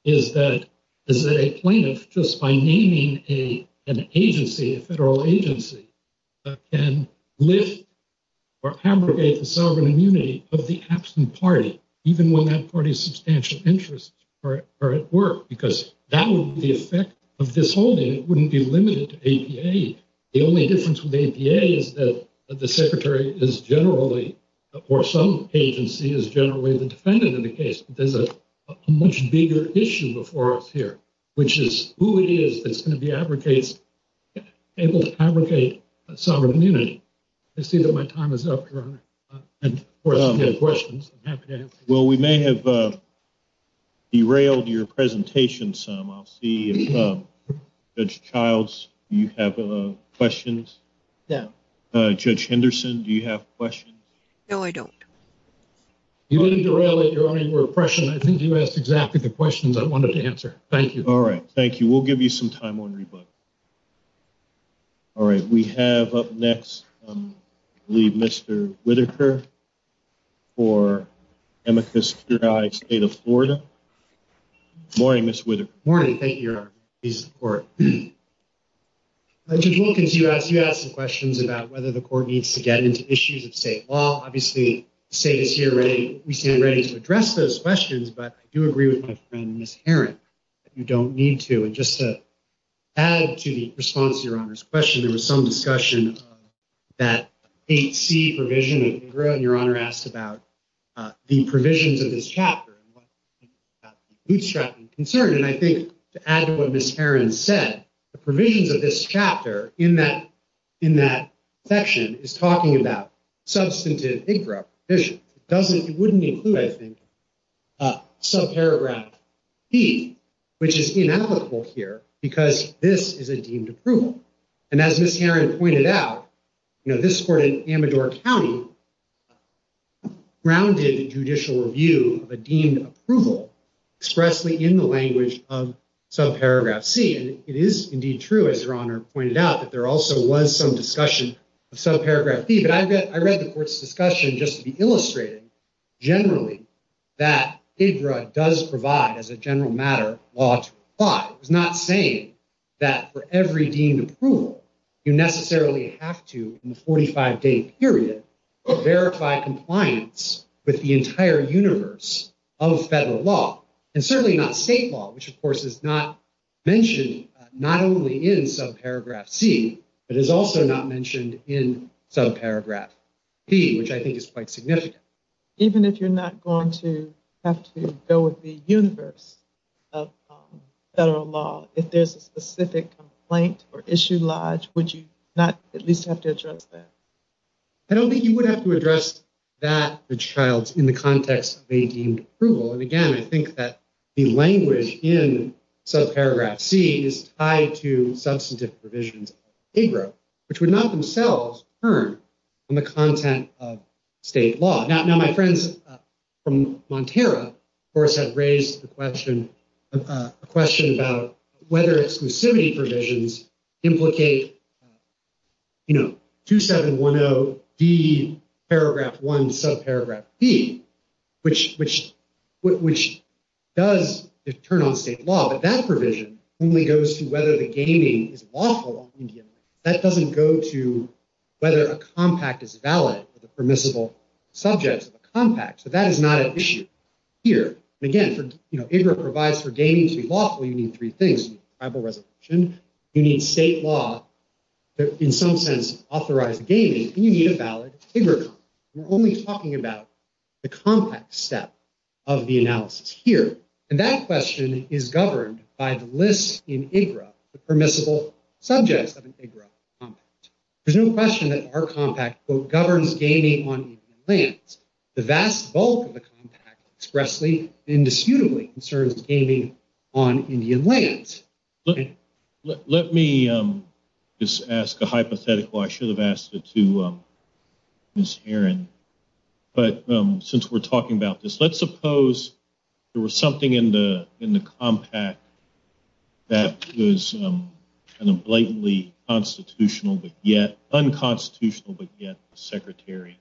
is that a plaintiff, just by naming an agency, a federal agency, can lift or abrogate the sovereign immunity of the absent party, even when that party's substantial interests are at work, because that would be the effect of this holding. It wouldn't be limited to APA. The only difference with APA is that the secretary is generally, or some agency, is generally the dependent in the case. There's a much bigger issue before us here, which is who it is that's going to be able to abrogate the sovereign immunity. I see that my time is up here. Well, we may have derailed your presentation some. I'll see if Judge Childs, you have questions. Yeah. Judge Henderson, do you have questions? No, I don't. You really derailed it early for a question. I think you asked exactly the questions I wanted to answer. Thank you. All right. Thank you. We'll give you some time on rebuttal. All right. We have up next, I believe, Mr. Whittaker for Amicus Judi State of Florida. Morning, Mr. Whittaker. Morning. Thank you, Your Honor. Judge Wilkins, you asked some questions about whether the court needs to get into issues of state law. Obviously, the state is here. We stand ready to address those questions. But I do agree with my friend, Ms. Herent, that you don't need to. And just to add to the response to Your Honor's question, there was some discussion of that HC provision. Your Honor asked about the provisions of this chapter. He struck me concerned. And I think to add to what Ms. Herent said, the provisions of this chapter in that section is talking about substantive issues. It wouldn't include, I think, subparagraph B, which is inapplicable here because this is a deemed approval. And as Ms. Herent pointed out, this court in Amador County grounded judicial review of a deemed approval expressly in the language of subparagraph C. And it is indeed true, as Your Honor pointed out, that there also was some discussion of subparagraph B. But I read the court's discussion just to illustrate, generally, that HIDRA does provide, as a general matter, law to the plot. It's not saying that for every deemed approval, you necessarily have to, in a 45-day period, verify compliance with the entire universe of federal law. And certainly not state law, which, of course, is not mentioned not only in subparagraph C, but is also not mentioned in subparagraph B, which I think is quite significant. Even if you're not going to have to go with the universe of federal law, if there's a specific complaint or issue lodged, would you not at least have to address that? I don't think you would have to address that, Ms. Childs, in the context of a deemed approval. And again, I think that the language in subparagraph C is tied to substantive provisions of HIDRA, which would not themselves turn from the content of state law. Now, my friends from Montero, of course, have raised the question about whether exclusivity provisions implicate 2710D, paragraph 1, subparagraph B, which does turn on state law. But that provision only goes to whether the gaming is lawful. That doesn't go to whether a compact is valid as a permissible subject of a compact. So that is not an issue here. Again, HIDRA provides for gaming to be lawful. You need three things. You need tribal resolution. You need state law to, in some sense, authorize gaming. You need a valid HIDRA compact. We're only talking about the compact step of the analysis here. And that question is governed by the list in HIDRA, the permissible subject of an HIDRA compact. There's no question that our compact, quote, governs gaming on Indian lands. The vast bulk of the compact expressly and indisputably concerns gaming on Indian lands. Let me just ask a hypothetical. I should have asked it to Ms. Aaron. But since we're talking about this, let's suppose there was something in the compact that was kind of blatantly constitutional, but yet unconstitutional, but yet the secretary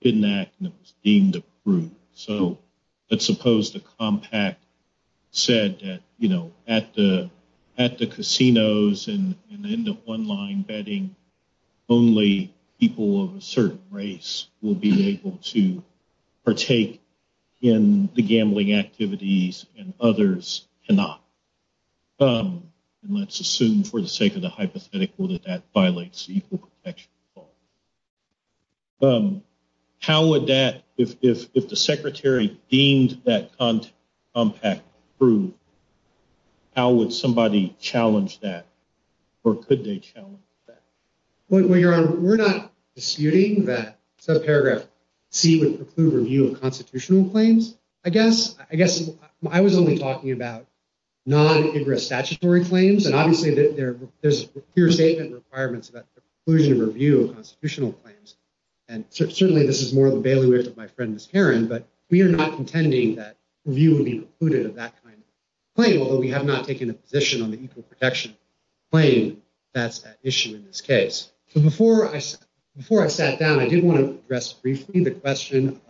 didn't act and it was deemed appropriate. So let's suppose the compact said that, you know, at the casinos and in the one-line betting, only people of a certain race will be able to partake in the gambling activities and others cannot. And let's assume, for the sake of the hypothetical, that that violates the Equal Protection Law. How would that, if the secretary deemed that compact true, how would somebody challenge that? Or could they challenge that? We're not disputing that subparagraph C would preclude review of constitutional claims. I guess I was only talking about non-HIDRA statutory claims. Obviously, there's a clear statement of requirements that preclude review of constitutional claims. And certainly this is more of a bailiwick of my friend Ms. Aaron, but we are not contending that review would be precluded of that kind of claim, although we have not taken a position on the Equal Protection claim that's at issue in this case. So before I sat down, I did want to address briefly the question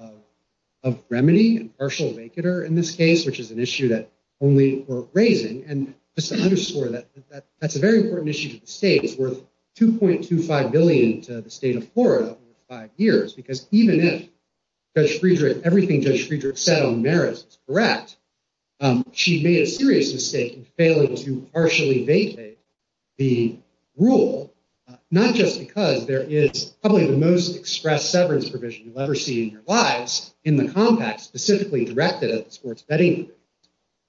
of remedy and partial or vacater in this case, which is an issue that only we're raising. And just to underscore that, that's a very important issue for the state. It's worth $2.25 billion to the state of Florida over five years, because even if Judge Friedrich, everything Judge Friedrich said on the merits is correct, she made a serious mistake in failing to partially vacate the rule, not just because there is probably the most express severance provision you've ever seen in your lives in the compact specifically directed at this court's vetting group,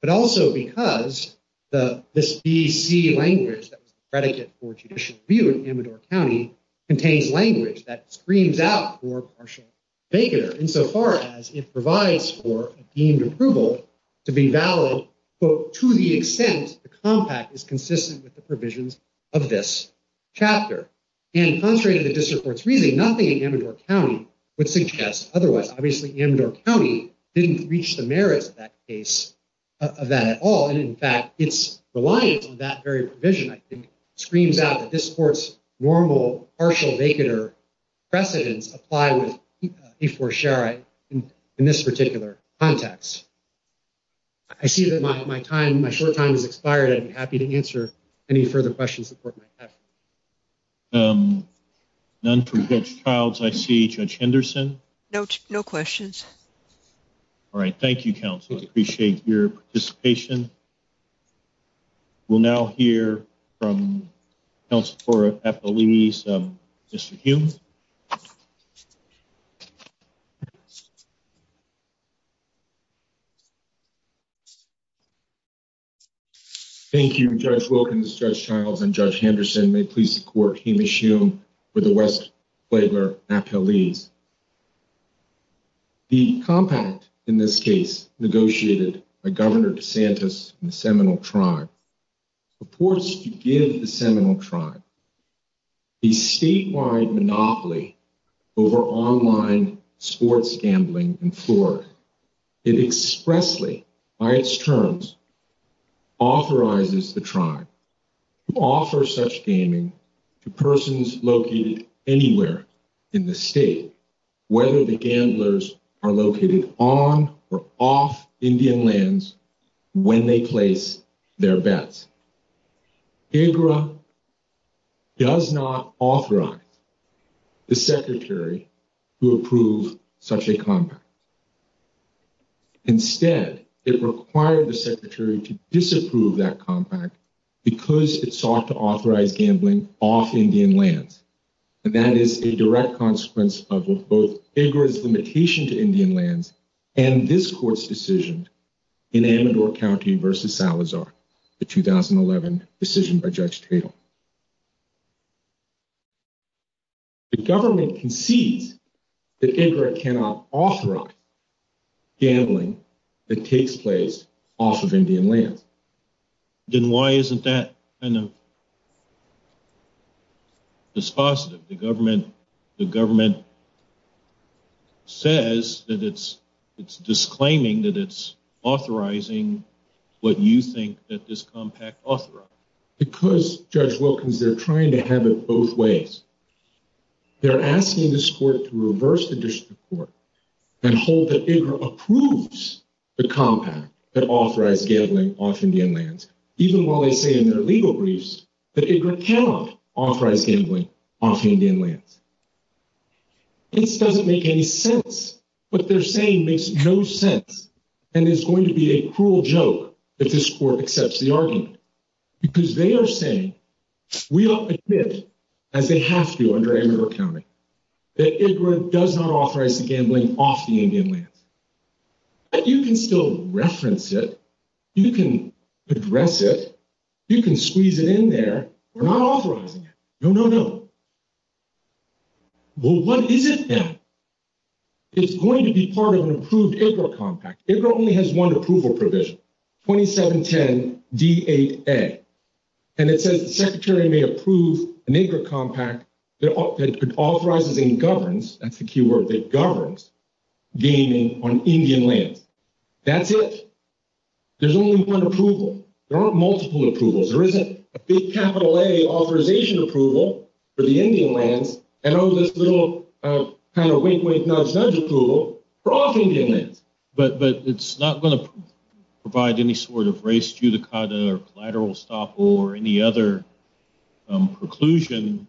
but also because this BC language, the predicate for judicial review in Amador County, contains language that screams out for partial vacater, insofar as it provides for deemed approval to be valid, quote, to the extent the compact is consistent with the provisions of this chapter. And contrary to the district court's reasoning, nothing in Amador County would suggest otherwise. Obviously, Amador County didn't reach the merits of that case, of that at all. And, in fact, its reliance on that very provision, I think, screams out that this court's normal partial vacater precedents apply with K4-SHARE-I in this particular context. I see that my time, my short time has expired. I'd be happy to answer any further questions the court might have. None from Judge Childs. I see Judge Henderson. No questions. All right. Thank you, counsel. I appreciate your participation. We'll now hear from counsel for appellees, Mr. Hume. Thank you, Judge Wilkins, Judge Childs, and Judge Henderson. And may it please the court, Hume is humed for the West Flagler appellees. The compact in this case negotiated by Governor DeSantis and the Seminole Tribe purports to give the Seminole Tribe a statewide monopoly over online sports gambling in Florida. It expressly, by its terms, authorizes the tribe to offer such gaming to persons located anywhere in the state, whether the gamblers are located on or off Indian lands when they place their bets. AGRA does not authorize the secretary to approve such a compact. Instead, it required the secretary to disapprove that compact because it sought to authorize gambling off Indian lands. And that is a direct consequence of both AGRA's limitation to Indian lands and this court's decision in Amador County v. Salazar, the 2011 decision by Judge Cato. The government concedes that AGRA cannot authorize gambling that takes place off of Indian land. Then why isn't that kind of dispositive? The government says that it's disclaiming that it's authorizing what you think that this compact authorizes. Because, Judge Wilkins, they're trying to have it both ways. They're asking this court to reverse the decision of the court and hold that AGRA approves the compact that authorizes gambling off Indian lands. Even while they say in their legal briefs that AGRA cannot authorize gambling off Indian lands. This doesn't make any sense. What they're saying makes no sense and is going to be a cruel joke if this court accepts the argument. Because they are saying, we don't admit, and they have to under Amador County, that AGRA does not authorize gambling off the Indian lands. You can still reference it. You can address it. You can squeeze it in there. We're not authorizing it. No, no, no. Well, what is it then? It's going to be part of an approved AGRA compact. AGRA only has one approval provision, 2710 D8A. And it says the secretary may approve an AGRA compact that authorizes and governs, that's the key word, that governs gaming on Indian lands. That's it. There's only one approval. There aren't multiple approvals. There isn't a big capital A authorization approval for the Indian lands. And all this little kind of wink, wink, nudge, nudge approval for off Indian lands. But it's not going to provide any sort of race judicata or collateral stuff or any other preclusion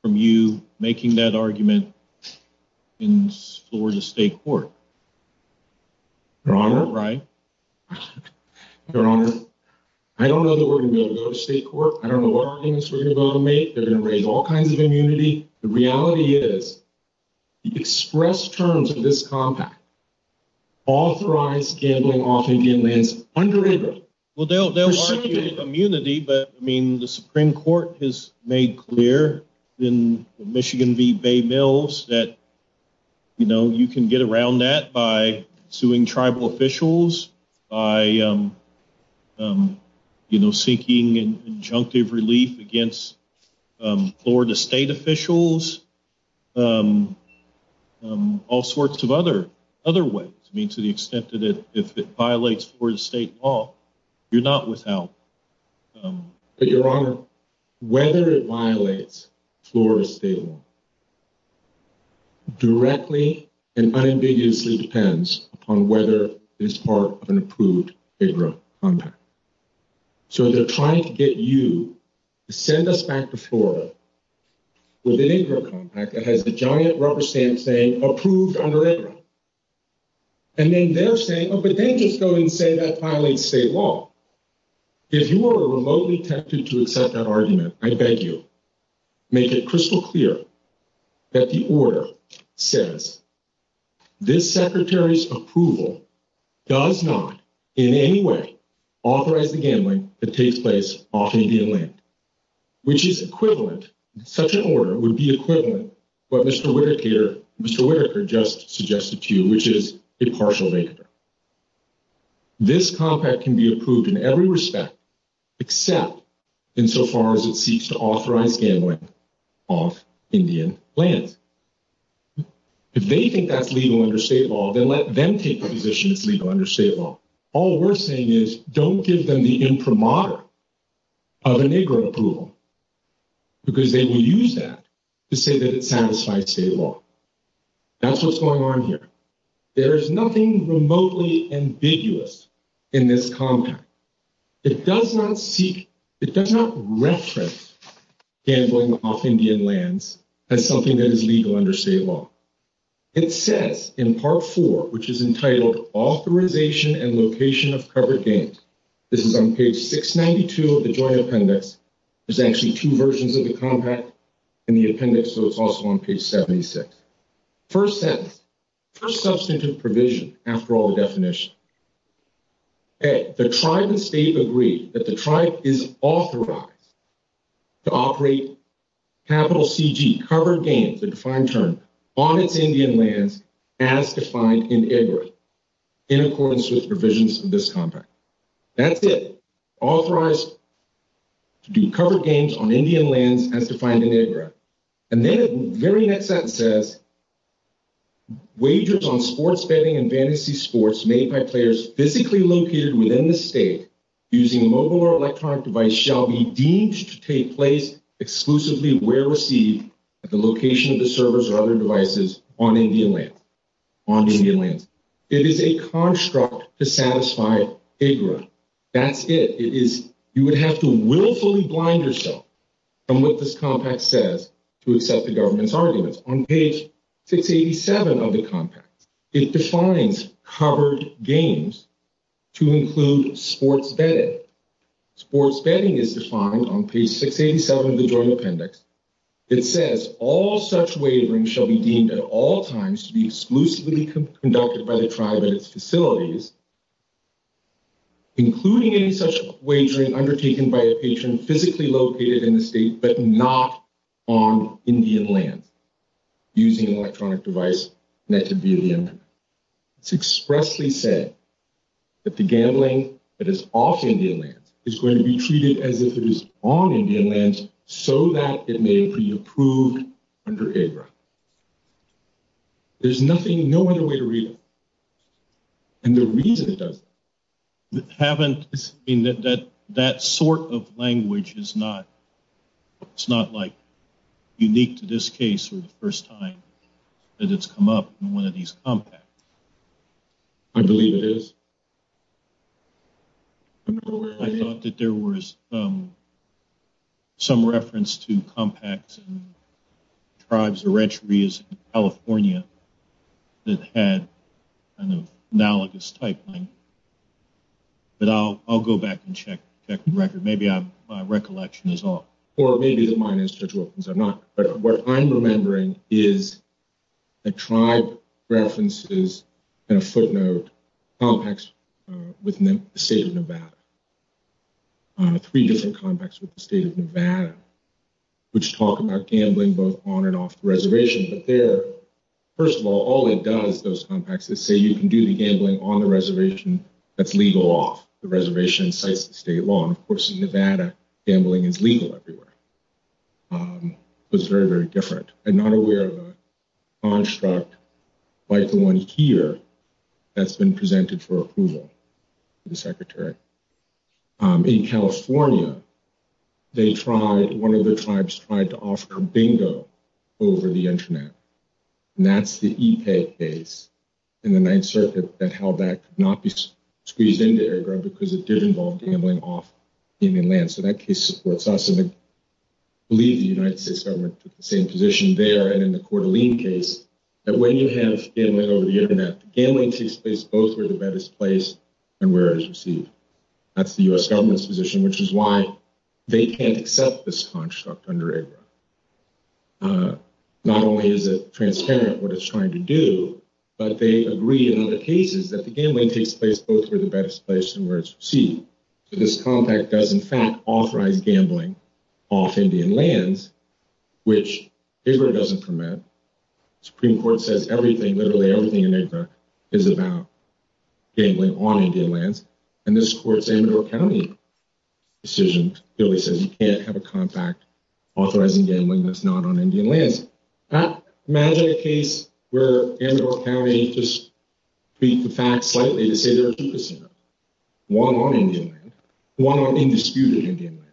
from you making that argument in Florida State Court. Your Honor. Right. Your Honor, I don't know the wording of the state court. I don't know what arguments we're going to make. They're going to raise all kinds of immunity. The reality is the express terms of this compact, authorize gambling off Indian lands under it. Well, they'll argue immunity. But, I mean, the Supreme Court has made clear in the Michigan v. Bay Mills that, you know, you can get around that by suing tribal officials, by, you know, seeking injunctive relief against Florida state officials, all sorts of other ways. I mean, to the extent that if it violates Florida state law, you're not without. Your Honor, whether it violates Florida's state law directly and unambiguously depends upon whether it is part of an approved agro compact. So they're trying to get you to send us back to Florida with an agro compact that has the giant rubber stamp saying approved under agro. And then they're saying, oh, but then he's going to say that violates state law. If you are remotely tempted to accept that argument, I beg you, make it crystal clear that the order says this secretary's approval does not, in any way, authorize the gambling that takes place off Indian land, which is equivalent. Such an order would be equivalent to what Mr. Whitaker just suggested to you, which is a partial negative. This compact can be approved in every respect, except insofar as it seeks to authorize gambling off Indian land. If they think that's legal under state law, then let them take the position it's legal under state law. All we're saying is don't give them the imprimatur of an agro approval because they will use that to say that it satisfies state law. That's what's going on here. There's nothing remotely ambiguous in this compact. It does not seek, it does not reference gambling off Indian lands as something that is legal under state law. It says in Part 4, which is entitled Authorization and Location of Covered Games. This is on page 692 of the Joint Appendix. There's actually two versions of the compact in the appendix, so it's also on page 76. First sentence, first substantive provision after all the definition. The tribe and state agree that the tribe is authorized to operate capital CG, cover games, a defined term, on its Indian lands as defined in EGRA in accordance with provisions of this compact. That's it, authorized to do covered games on Indian lands as defined in EGRA. And then the very next sentence says, wagers on sports betting and fantasy sports made by players physically located within the state using a mobile or electronic device shall be deemed to take place exclusively where received at the location of the servers or other devices on Indian lands. It is a construct to satisfy EGRA. That's it. You would have to willfully blind yourself from what this compact says to accept the government's arguments. On page 687 of the compact, it defines covered games to include sports betting. Sports betting is defined on page 687 of the journal appendix. It says all such wagering shall be deemed at all times to be exclusively conducted by the tribe and its facilities, including any such wagering undertaken by a patron physically located in the state but not on Indian lands using an electronic device connected to the Indian lands. It's expressly said that the gambling that is off Indian lands is going to be treated as if it was on Indian lands so that it may be approved under EGRA. There's nothing, no other way to read it. And the reason it doesn't happen in that sort of language is not like unique to this case or the first time that it's come up in one of these compacts. I believe it is. I thought that there was some reference to compacts and tribes or retrieves in California that had analogous typing, but I'll go back and check the record. Maybe my recollection is off. Or maybe mine is because I'm not. But what I'm remembering is the tribe references and footnote compacts with the state of Nevada, three different compacts with the state of Nevada, which talk about gambling both on and off the reservation. But there, first of all, all it does, those compacts that say you can do the gambling on the reservation, that's legal off the reservation and cites the state law. Of course, in Nevada, gambling is legal everywhere. It's very, very different. I'm not aware of a construct like the one here that's been presented for approval to the Secretary. In California, they tried, one of the tribes tried to offer bingo over the Internet. And that's the EPA case in the Ninth Circuit that held that could not be squeezed into EGRA because it did involve gambling off Indian land. So that case supports us. And I believe the United States government took the same position there. And in the Coeur d'Alene case, that when you have gambling over the Internet, the gambling takes place both where the bet is placed and where it is received. That's the U.S. government's position, which is why they can't accept this construct under EGRA. Not only is it transparent what it's trying to do, but they agree in other cases that the gambling takes place both where the bet is placed and where it's received. So this contract does, in fact, authorize gambling off Indian lands, which EGRA doesn't permit. The Supreme Court says everything, literally everything in EGRA is about gambling on Indian lands. And this court's Ann Arbor County decision clearly says you can't have a contract authorizing gambling that's not on Indian lands. Imagine a case where Ann Arbor County just beat the facts slightly to say there are two decisions. One on Indian lands. One on indisputed Indian lands.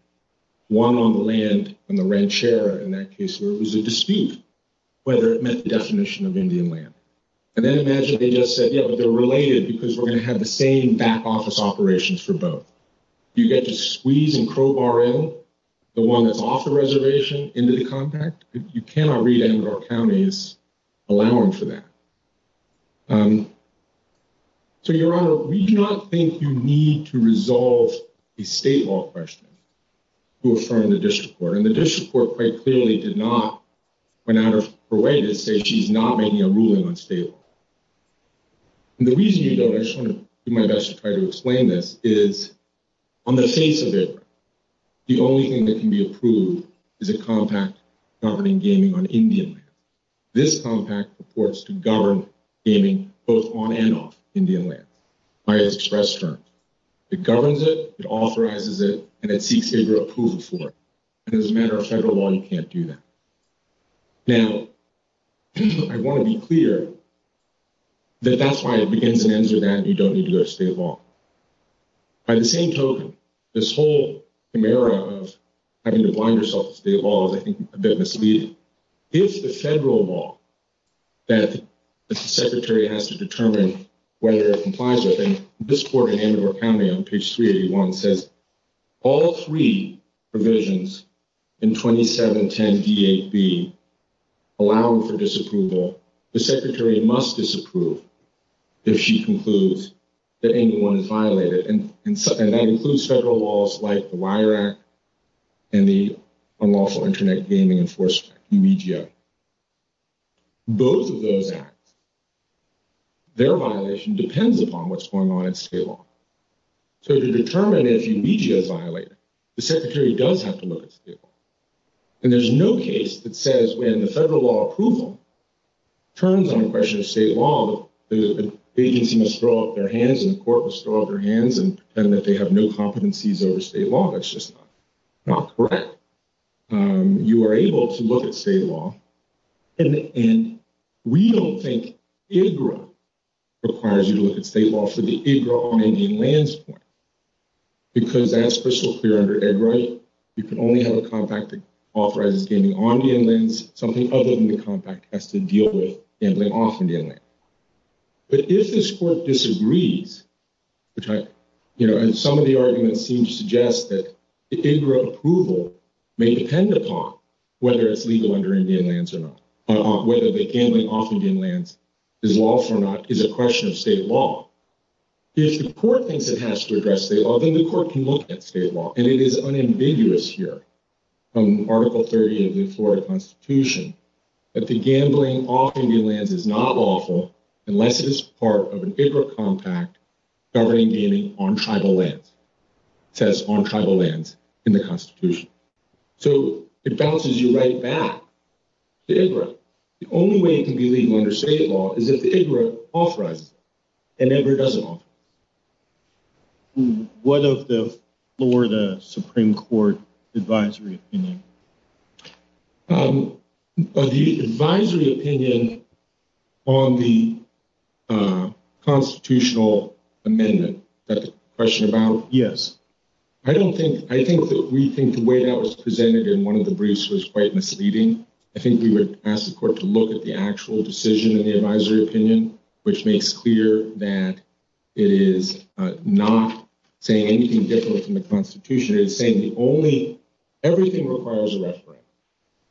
One on the land on the red chair in that case where it was a dispute whether it met the definition of Indian land. And then imagine they just said, yeah, but they're related because we're going to have the same back office operations for both. You get to squeeze in Crowbaril, the one that's off the reservation, into the contract. You cannot read Ann Arbor County's allowance for that. So, Your Honor, we do not think you need to resolve a state law question to affirm the district court. And the district court quite clearly did not, when I was her witness, say she's not making a ruling on state law. And the reason you don't, I just want to do my best to try to explain this, is on the face of it, the only thing that can be approved is a compact governing gaming on Indian lands. This compact supports to govern gaming both on and off Indian lands by express terms. It governs it, it authorizes it, and it seeks favor of approval for it. And as a matter of federal law, you can't do that. Now, I want to be clear that that's why it begins and ends with that you don't need to do a state law. By the same token, this whole scenario of having to bind yourself to state law is a bit misleading. If the federal law that the secretary has to determine whether it complies with, and this court in Ann Arbor County on page 381 says all three provisions in 2710E8B allow for disapproval, the secretary must disapprove if she concludes that anyone is violated. And that includes federal laws like the Wire Act and the Unlawful Internet Gaming Enforcement, UBGA. Both of those acts, their violation depends upon what's going on in state law. So to determine a UBGA violator, the secretary does have to look at state law. And there's no case that says when the federal law approval turns on a question of state law, the state agency must throw up their hands and the court must throw up their hands and tell them that they have no competencies over state law. That's just not correct. You are able to look at state law, and we don't think AGRA requires you to look at state law. You can only have a contract that authorizes gaming on Indian lands, something other than the contract has to deal with gambling off Indian lands. But if this court disagrees, and some of the arguments seem to suggest that the AGRA approval may depend upon whether it's legal under Indian lands or not, whether the gambling off Indian lands is lawful or not, is a question of state law. If the court thinks it has to address state law, then the court can look at state law. And it is unambiguous here in Article 38 of the Florida Constitution that the gambling off Indian lands is not lawful unless it is part of an AGRA contract governing gaming on tribal lands. It says on tribal lands in the Constitution. So it bounces you right back to AGRA. The only way it can be legal under state law is if AGRA authorizes it, and AGRA doesn't authorize it. What of the Florida Supreme Court advisory opinion? The advisory opinion on the constitutional amendment, that's the question about? Yes. I don't think, I think that we think the way that was presented in one of the briefs was quite misleading. I think we would ask the court to look at the actual decision in the advisory opinion, which makes clear that it is not saying anything different from the Constitution. It is saying the only, everything requires a reference,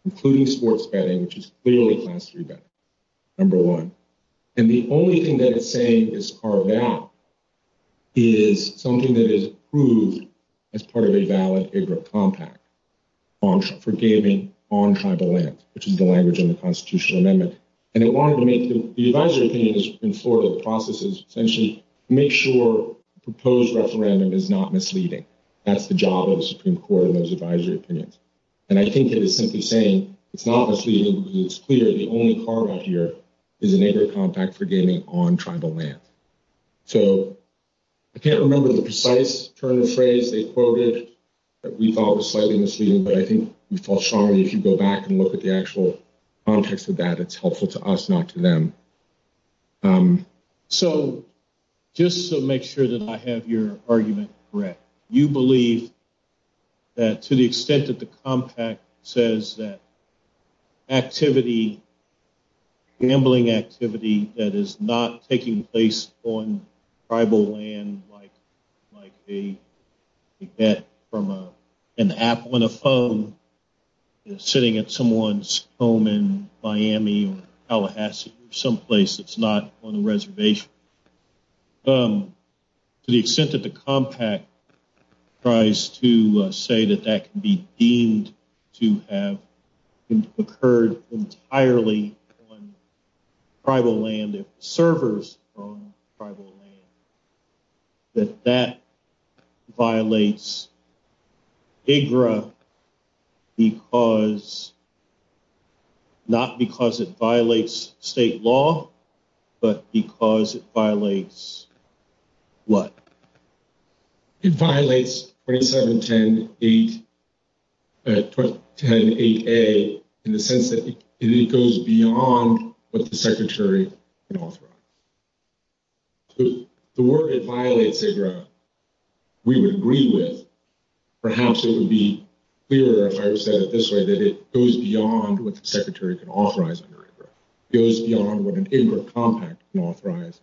including sports betting, which is clearly Class III betting, number one. And the only thing that it's saying is carved out is something that is approved as part of a valid AGRA contract on, for gaming on tribal lands, which is the language in the constitutional amendment. And it wanted to make the, the advisory opinion is in Florida, the process is essentially to make sure the proposed referendum is not misleading. That's the job of the Supreme Court in those advisory opinions. And I think that it's simply saying it's not misleading because it's clear that the only part of here is an AGRA contract for gaming on tribal lands. So, I can't remember the precise turn of phrase they quoted that we thought was slightly misleading, but I think we felt strongly we should go back and look at the actual context of that. It's helpful to us, not to them. So, just to make sure that I have your argument correct, you believe that to the extent that the compact says that activity, gambling activity that is not taking place on tribal land, like they get from an app on a phone, is sitting at someone's home in Miami or Tallahassee or someplace that's not on a reservation. To the extent that the compact tries to say that that can be deemed to have occurred entirely on tribal land, or servers on tribal land, that that violates AGRA because, not because it violates state law, but because it violates what? It violates 27108A in the sense that it goes beyond what the Secretary can offer. If the word violates AGRA, we would agree with it. Perhaps it would be clear, if I would say it this way, that it goes beyond what the Secretary can authorize under AGRA. It goes beyond what a compact can authorize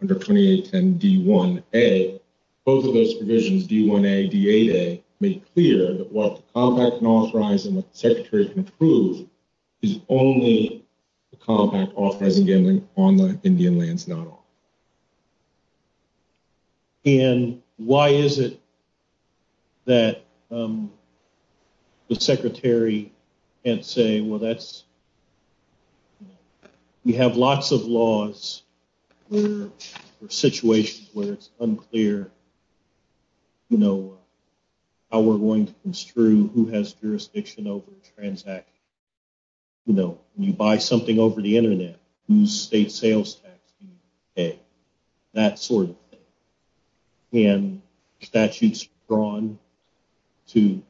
under 2810D1A. Both of those provisions, D1A and D8A, make clear that what the compact can authorize and what the Secretary can approve is only the compact authorizing gambling on Indian lands, not on tribal lands. And why is it that the Secretary can't say, well, we have lots of laws or situations where it's unclear how we're going to construe who has jurisdiction over the transaction. State sales tax, that sort of thing. And statutes are drawn to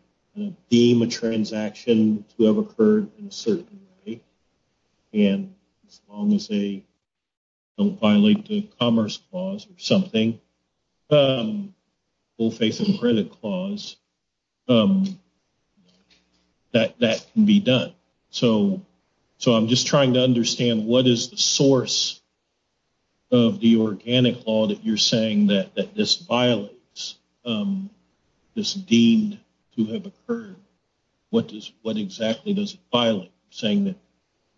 deem a transaction to have occurred in a certain way. And as long as they don't violate the Commerce Clause or something, the Full Faithful Credit Clause, that can be done. So I'm just trying to understand, what is the source of the organic law that you're saying that this violates, this deemed to have occurred? What exactly does it violate? You're saying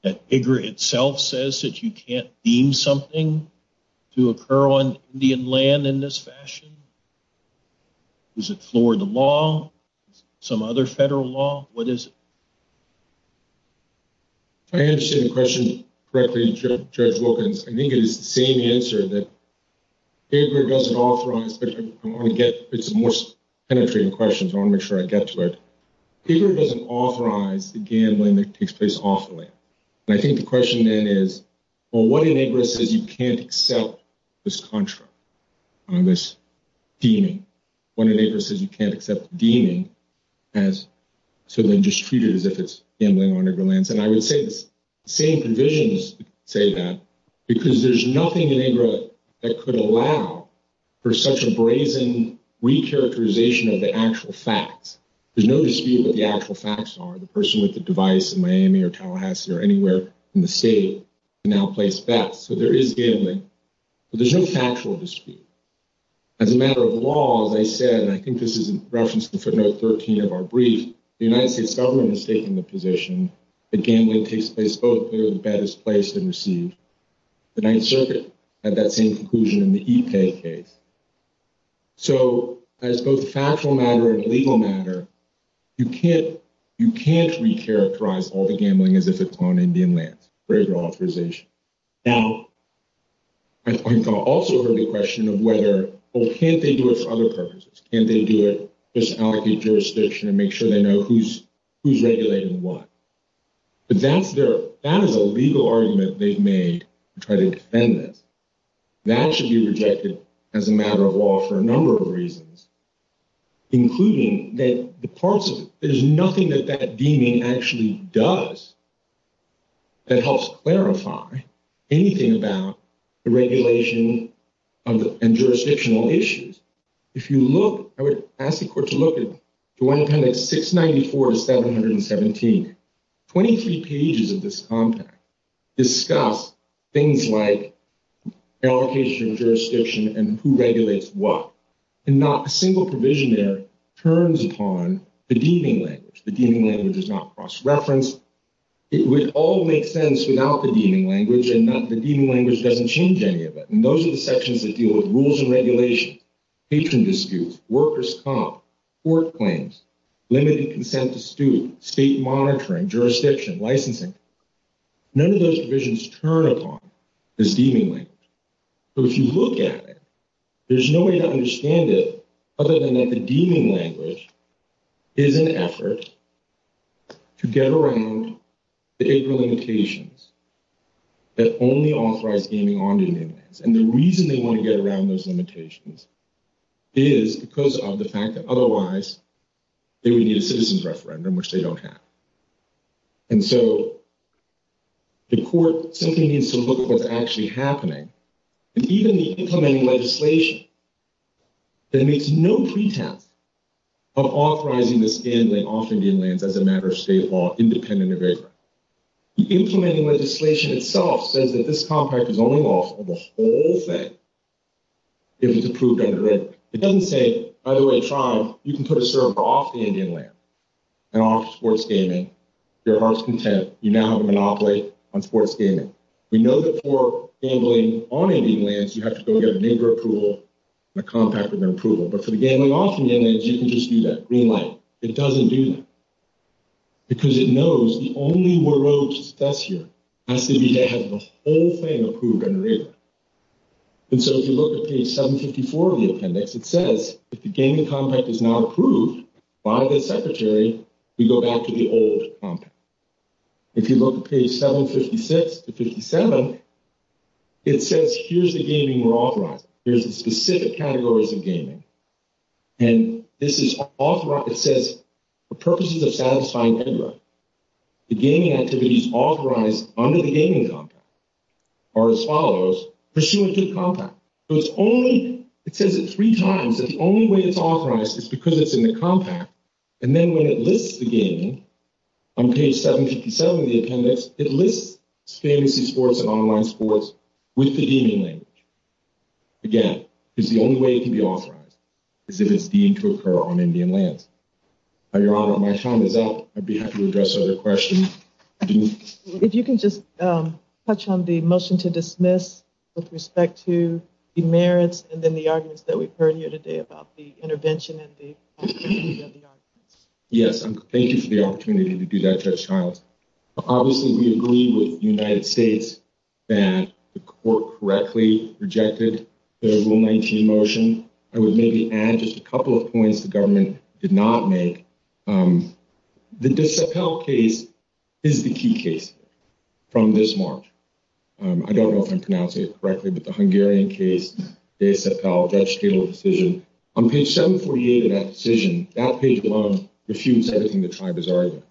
that AGRA itself says that you can't deem something to occur on Indian land in this fashion? Is it Florida law? Is it some other federal law? What is it? I understand the question correctly, Judge Wilkins. I think it is the same answer that paper doesn't authorize. I want to get to some more penetrating questions. I want to make sure I get to that. Paper doesn't authorize the gambling that takes place off the land. And I think the question then is, well, what enables it that you can't accept this contract, this deeming? When AGRA says you can't accept the deeming, has someone just treated it as if it's gambling on AGRA lands? And I would say the same convenience to say that, because there's nothing in AGRA that could allow for such a brazen re-characterization of the actual facts. There's no dispute what the actual facts are. The person with the device in Miami or Tallahassee or anywhere in the state can now place bets. So there is gambling. But there's no factual dispute. As a matter of law, as I said, and I think this is in reference to note 13 of our brief, the United States government has taken the position that gambling takes place both here in the better place than received. The Ninth Circuit had that same conclusion in the EPA case. So as both a factual matter and a legal matter, you can't re-characterize all the gambling as if it's on Indian land for AGRA authorization. Now, I'm going to also raise the question of whether, well, can't they do it for other purposes? Can't they do it just out of the jurisdiction and make sure they know who's regulating what? That is a legal argument they've made to try to defend it. That should be rejected as a matter of law for a number of reasons, including that there's nothing that that deeming actually does that helps clarify anything about the regulation and jurisdictional issues. If you look, I would ask the court to look at the 110694-717. Twenty-three pages of this contract discuss things like allocation and jurisdiction and who regulates what. And not a single provision there turns upon the deeming language. It does not cross-reference. It would all make sense without the deeming language and that the deeming language doesn't change any of it. And those are the sections that deal with rules and regulation, patron dispute, workers' comp, court claims, limiting consent to student, state monitoring, jurisdiction, licensing. None of those provisions turn upon this deeming language. So if you look at it, there's no way to understand it other than that the deeming language is an effort to get around the April limitations that only authorize deeming on union lands. And the reason they want to get around those limitations is because of the fact that otherwise they would need a citizen's referendum, which they don't have. And so the court simply needs to look at what's actually happening. Even the incoming legislation that makes no pretext of authorizing this gambling off union lands as a matter of state law independent of it. The incoming legislation itself says that this contract is only lawful for the whole thing if it's approved under it. It doesn't say, by the way, you can put a server off the union land and off sports gaming. There are some tests. You now have a monopoly on sports gaming. We know that for gambling on union lands, you have to go get a neighbor approval and a contract with an approval. But for the gambling off union lands, you can just do that. Green light. It doesn't do that. Because it knows the only world's test here has to be to have the whole thing approved by the neighbor. And so if you look at page 754 of the appendix, it says, if the gambling contract is not approved by the secretary, you go back to the old contract. If you look at page 756 to 57, it says, here's the gaming we're authorizing. Here's the specific categories of gaming. And this is authorized. It says, for purposes of satisfying tenure, the gaming activities authorized under the gaming contract are as follows. Pursuant to the contract. So it's only, it says it three times, that the only way it's authorized is because it's in the contract. And then when it lists the gaming, on page 757 of the appendix, it lists fantasy sports and online sports with the gaming language. Again, it's the only way it can be authorized. Because it is deemed to occur on Indian land. Your Honor, my time is up. I'd be happy to address other questions. If you can just touch on the motion to dismiss with respect to the merits and then the arguments that we've heard here today about the intervention Yes, thank you for the opportunity to do that, Judge Tiles. Obviously, we agree with the United States that the court correctly rejected the 119 motion. I would maybe add just a couple of points the government did not make. The Disappel case is the key case from this one. I don't know if I'm pronouncing it correctly, but the Hungarian case, Disappel, that's a fatal decision. On page 748 of that decision, that page 1, refutes everything the tribe is arguing.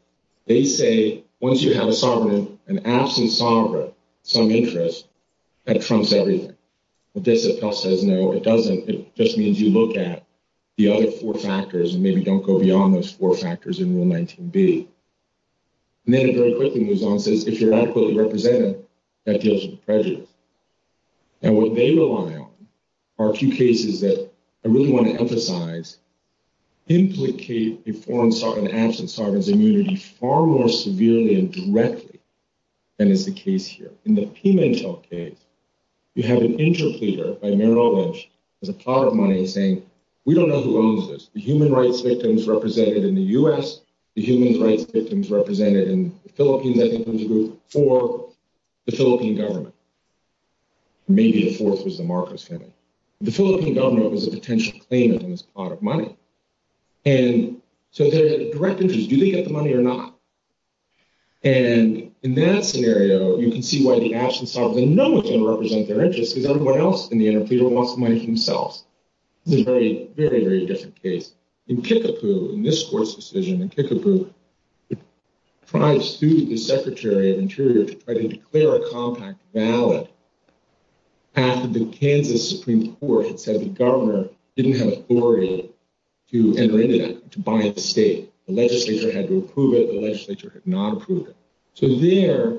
They say, once you have a sovereign, an absent sovereign, some interest, that trumps everything. If Disappel says no, it doesn't. It just means you look at the other four factors and maybe don't go beyond those four factors in the 119B. And then it very quickly goes on and says, if you're adequately represented, that deals with prejudice. And what they rely on are a few cases that I really want to emphasize, implicate a foreign sovereign, an absent sovereign's immunity, far more severely and directly than is the case here. In the Pimentel case, you have an interpreter by Merrill Lynch, as a part of mine, saying, we don't know who owns this. The human rights victims represented in the U.S., the human rights victims represented in the Philippines, represented in the group for the Philippine government. Maybe a fourth was the Marcos family. The Philippine government was a potential claimant on this pot of money. And so there's a direct excuse. Do they get the money or not? And in that scenario, you can see why the absent sovereign, they're not going to represent their interests because everyone else in the interpreter wants the money themselves. It's a very, very, very different case. In Pikapu, in this court's decision in Pikapu, the prized student, the secretary of the interpreter, had to declare a contract valid after the Kansas Supreme Court said the governor didn't have authority to enter into that, to bind the state. The legislature had to approve it. The legislature did not approve it. So there,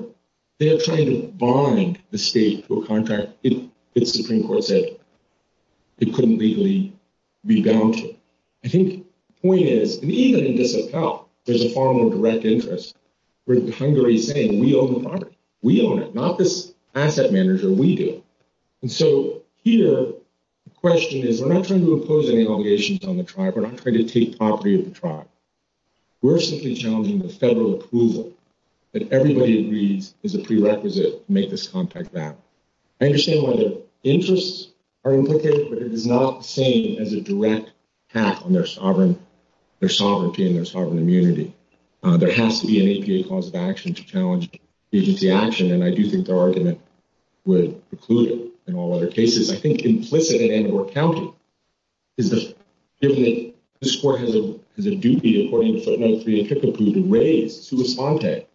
they're trying to bind the state to a contract if the Supreme Court said it couldn't legally redoubt it. I think the point is, even in this account, there's a form of direct interest where the hungary is saying, we own the property. We own it. Not this asset manager. We do. And so here, the question is, we're not trying to impose any allegations on the tribe. We're not trying to take property of the tribe. We're simply challenging the federal approval that everybody agrees is a prerequisite to make this contract valid. I understand why their interests are implicated, but it is not the same as a direct pat on their sovereign, their sovereignty and their sovereign immunity. There has to be an APA cause of action to challenge agency action, and I do think their argument would preclude it in all other cases. I think implicit in Andorra County is that given that this court has a duty according to state law to be equipped to raise, to respond to,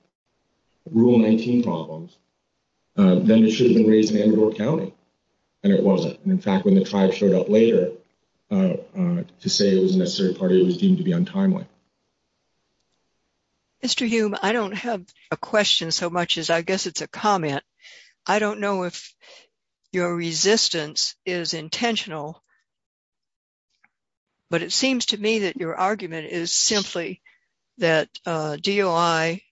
Rule 19 problems, then it shouldn't have been raised in Andorra County. And it wasn't. In fact, when the tribe showed up later to say it was a necessary party, it was deemed to be untimely. Mr. Hume, I don't have a question so much as I guess it's a comment. I don't know if your resistance is intentional, but it seems to me that your argument is simply that DOI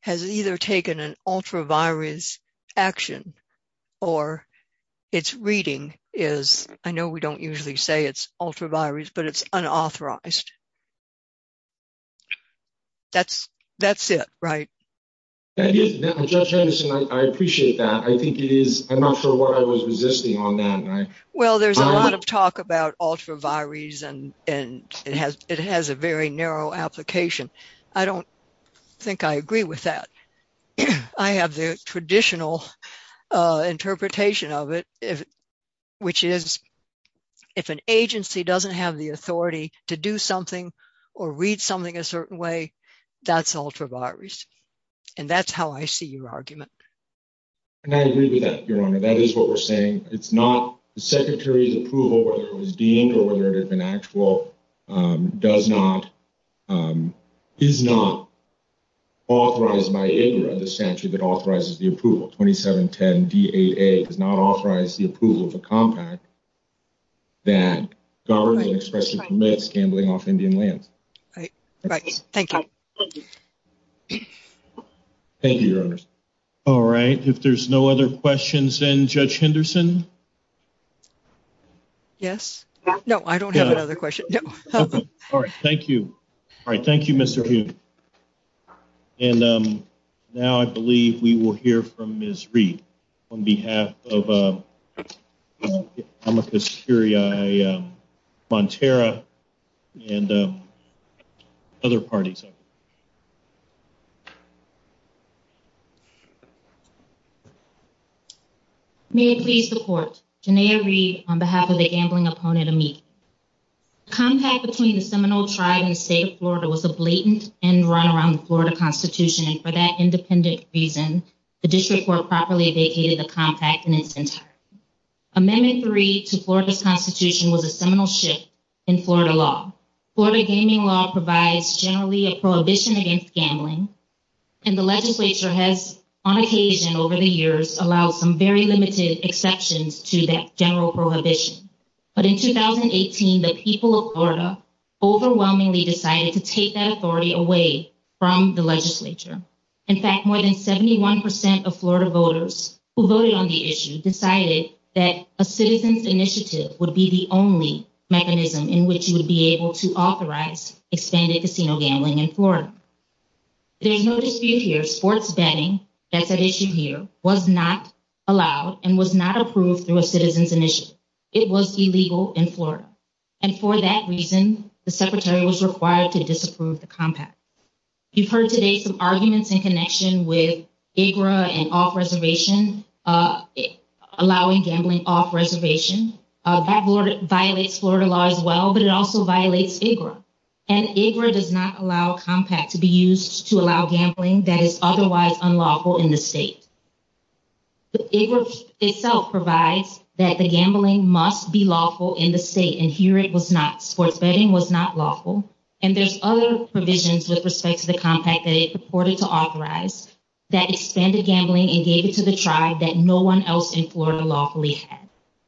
has either taken an ultra virus action or it's reading is, I know we don't usually say it's ultra virus, but it's unauthorized. That's it, right? Judge Henderson, I appreciate that. I think it is. I'm not sure why I was resisting on that. Well, there's a lot of talk about ultra virus, and it has a very narrow application. I don't think I agree with that. I have the traditional interpretation of it, which is if an agency doesn't have the authority to do something or read something a certain way, that's ultra virus. And that's how I see your argument. And I agree with that, Your Honor. That is what we're saying. It's not the Secretary's approval whether it was deemed or whether it was an actual does not, is not authorized by any other statute that authorizes the approval. 2710 DAA does not authorize the approval of the contract. That is already an expression for medics gambling off Indian land. Right. Thank you. Thank you, Your Honor. All right. If there's no other questions then, Judge Henderson? Yes. No, I don't have another question. All right. Thank you. All right. Thank you, Mr. Hume. Thank you. And now I believe we will hear from Ms. Reed on behalf of Amethyst Curiae-Fonterra and other parties. May I please report? Jenea Reed on behalf of the Gambling Opponent Committee. Contact between the Seminole Tribe and the State of Florida was a blatant and run-around in the Florida Constitution. And for that independent reason, the District Court properly vacated the contact in its entirety. Amendment 3 to the Florida Constitution was a seminal shift in Florida law. Florida gaming law provides generally a prohibition against gambling. And the legislature has, on occasion over the years, allowed some very limited exceptions to that general prohibition. But in 2018, the people of Florida overwhelmingly decided to take that authority away from the legislature. In fact, more than 71% of Florida voters who voted on the issue decided that a citizen's initiative would be the only mechanism in which you would be able to authorize expanded casino gambling in Florida. There is no dispute here, sports betting, that that issue here was not allowed and was not approved through a citizen's initiative. It was illegal in Florida. And for that reason, the Secretary was required to disapprove the compact. You've heard today some arguments in connection with AGRA and off-reservation, allowing gambling off-reservation. That violates Florida law as well, but it also violates AGRA. And AGRA does not allow a compact to be used to allow gambling that is otherwise unlawful in the state. AGRA itself provides that the gambling must be lawful in the state, and here it was not. Sports betting was not lawful. And there's other provisions with respect to the compact that it supported to authorize that expanded gambling and gave it to the tribe that no one else in Florida lawfully had.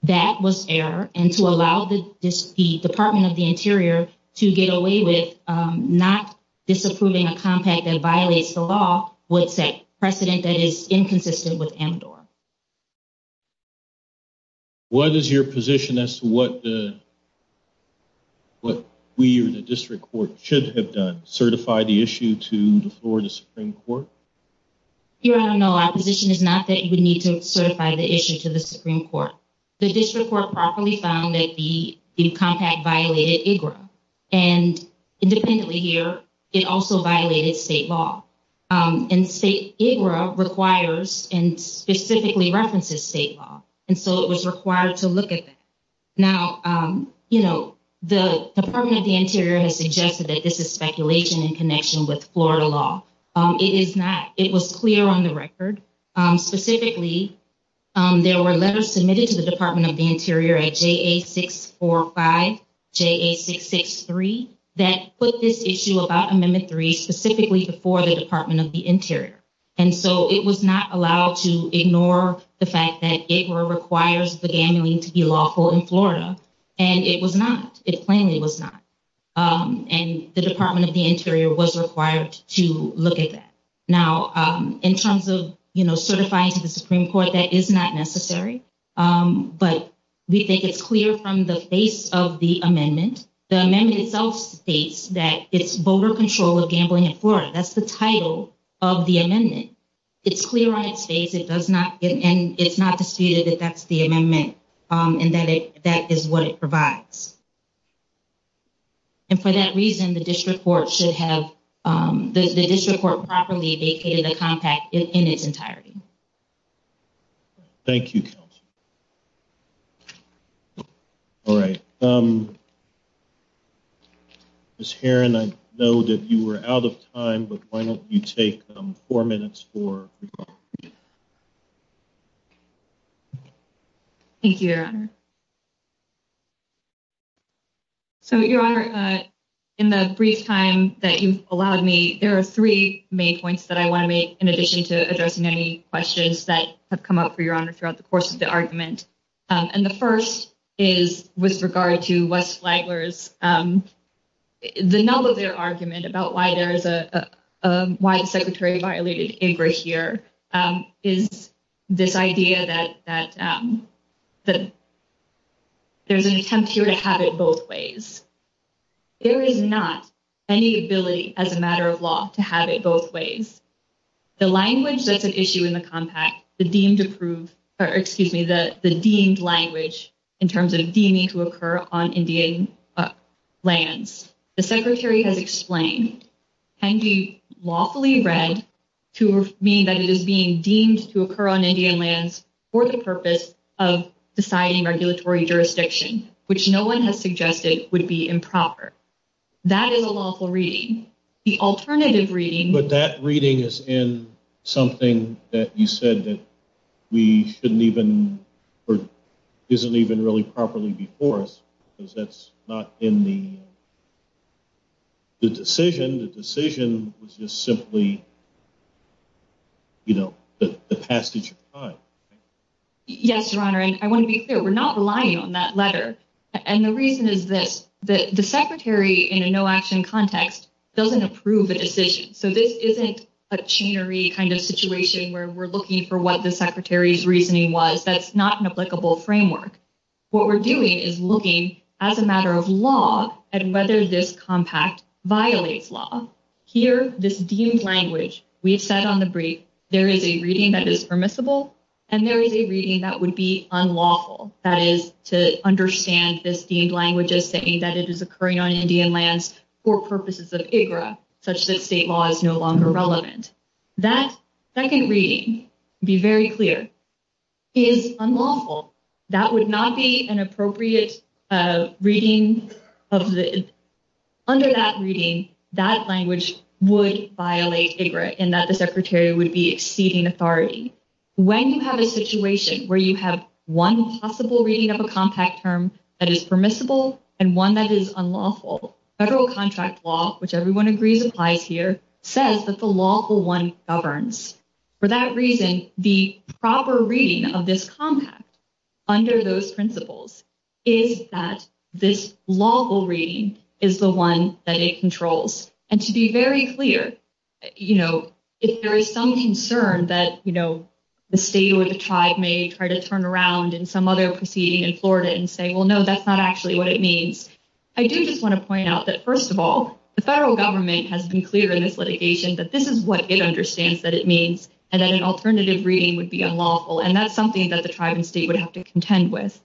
That was error, and to allow the Department of the Interior to get away with not disapproving a compact that violates the law would set precedent that is inconsistent with MDOR. What is your position as to what we, or the district court, should have done? Certify the issue before the Supreme Court? Here, I don't know. Our position is not that you would need to certify the issue to the Supreme Court. The district court properly found that the compact violated AGRA. And independently here, it also violated state law. And state AGRA requires and specifically references state law. And so it was required to look at that. Now, you know, the Department of the Interior has suggested that this is speculation in connection with Florida law. It is not. It was clear on the record. Specifically, there were letters submitted to the Department of the Interior at JA645, JA663, that put this issue about amendment three specifically before the Department of the Interior. And so it was not allowed to ignore the fact that AGRA requires the ban to be lawful in Florida. And it was not. It plainly was not. And the Department of the Interior was required to look at that. Now, in terms of, you know, certifying to the Supreme Court, that is not necessary. But we think it's clear from the face of the amendment. The amendment itself states that it's voter control of gambling in Florida. That's the title of the amendment. It's clear on its face. And it's not disputed that that's the amendment and that that is what it provides. And for that reason, the district court should have, the district court properly vacated the compact in its entirety. Thank you, Kelsey. All right. Ms. Heron, I know that you were out of time, but why don't you take four minutes for your comment. Thank you, Your Honor. So, Your Honor, in the brief time that you've allowed me, there are three main points that I want to make in addition to addressing any questions that have come up for Your Honor throughout the course of the argument. And the first is with regard to West Flagler's, the null of their argument about why there is a, why the Secretary violated ABR here is this idea that there's an attempt here to have it both ways. There is not any ability as a matter of law to have it both ways. The language that's at issue in the compact, the deemed approved, or excuse me, the deemed language in terms of deeming to occur on Indian lands. The Secretary has explained can be lawfully read to mean that it is being deemed to occur on Indian lands for the purpose of deciding regulatory jurisdiction, which no one has suggested would be improper. That is a lawful reading. The alternative reading... But that reading is in something that you said that we shouldn't even, or isn't even really properly before us, because that's not in the decision. The decision was just simply, you know, the passage of time. Yes, Your Honor, and I want to be clear. We're not relying on that letter. And the reason is that the Secretary in a no-action context still didn't approve the decision. So this isn't a chainery kind of situation where we're looking for what the Secretary's reasoning was. That's not an applicable framework. What we're doing is looking, as a matter of law, at whether this compact violates law. Here, this deemed language, we've said on the brief, there is a reading that is permissible, and there is a reading that would be unlawful. That is, to understand this deemed language as saying that it is occurring on Indian lands for purposes of IGRA, such that state law is no longer relevant. That second reading, to be very clear, is unlawful. That would not be an appropriate reading of this. Under that reading, that language would violate IGRA in that the Secretary would be exceeding authority. When you have a situation where you have one possible reading of a compact term that is permissible and one that is unlawful, federal contract law, which everyone agrees applies here, says that the lawful one governs. For that reason, the proper reading of this compact, under those principles, is that this lawful reading is the one that it controls. To be very clear, if there is some concern that the state or the tribe may try to turn around in some other proceeding in Florida and say, well, no, that's not actually what it means, I do just want to point out that, first of all, the federal government has been clear in its litigation that this is what it understands that it means and that an alternative reading would be unlawful, and that's something that the tribe and state would have to contend with.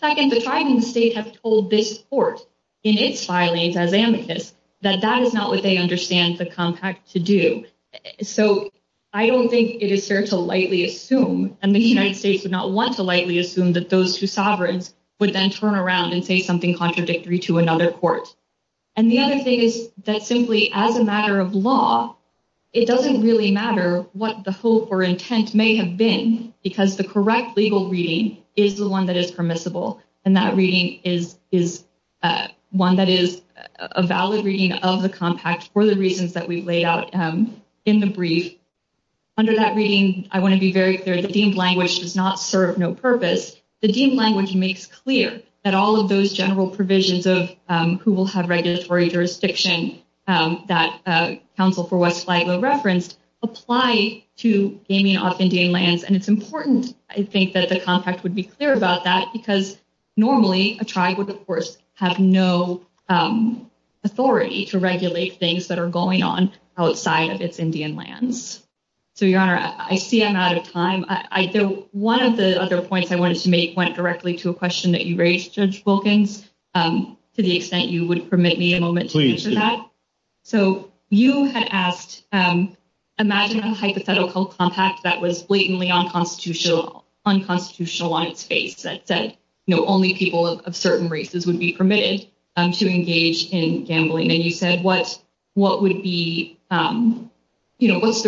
Second, the tribe and the state have told this court in its filings as amicus that that is not what they understand the compact to do. So I don't think it is fair to lightly assume, and the United States would not want to lightly assume that those two sovereigns would then turn around and say something contradictory to another court. And the other thing is that simply as a matter of law, it doesn't really matter what the hope or intent may have been because the correct legal reading is the one that is permissible, and that reading is one that is a valid reading of the compact for the reasons that we lay out in the brief. Under that reading, I want to be very clear, the deemed language does not serve no purpose. The deemed language makes clear that all of those general provisions of who will have regulatory jurisdiction that counsel for what slide will reference apply to gaming off Indian lands, and it's important, I think, that the compact would be clear about that because normally a tribe would, of course, have no authority to regulate things that are going on outside of its Indian lands. So, Your Honor, I see I'm out of time. One of the other points I wanted to make went directly to a question that you raised, Judge Wilkins, to the extent you would permit me a moment to answer that. So, you had asked, imagine a hypothetical compact that was blatantly unconstitutional on its face that said only people of certain races would be permitted to engage in gambling, and you said, what's the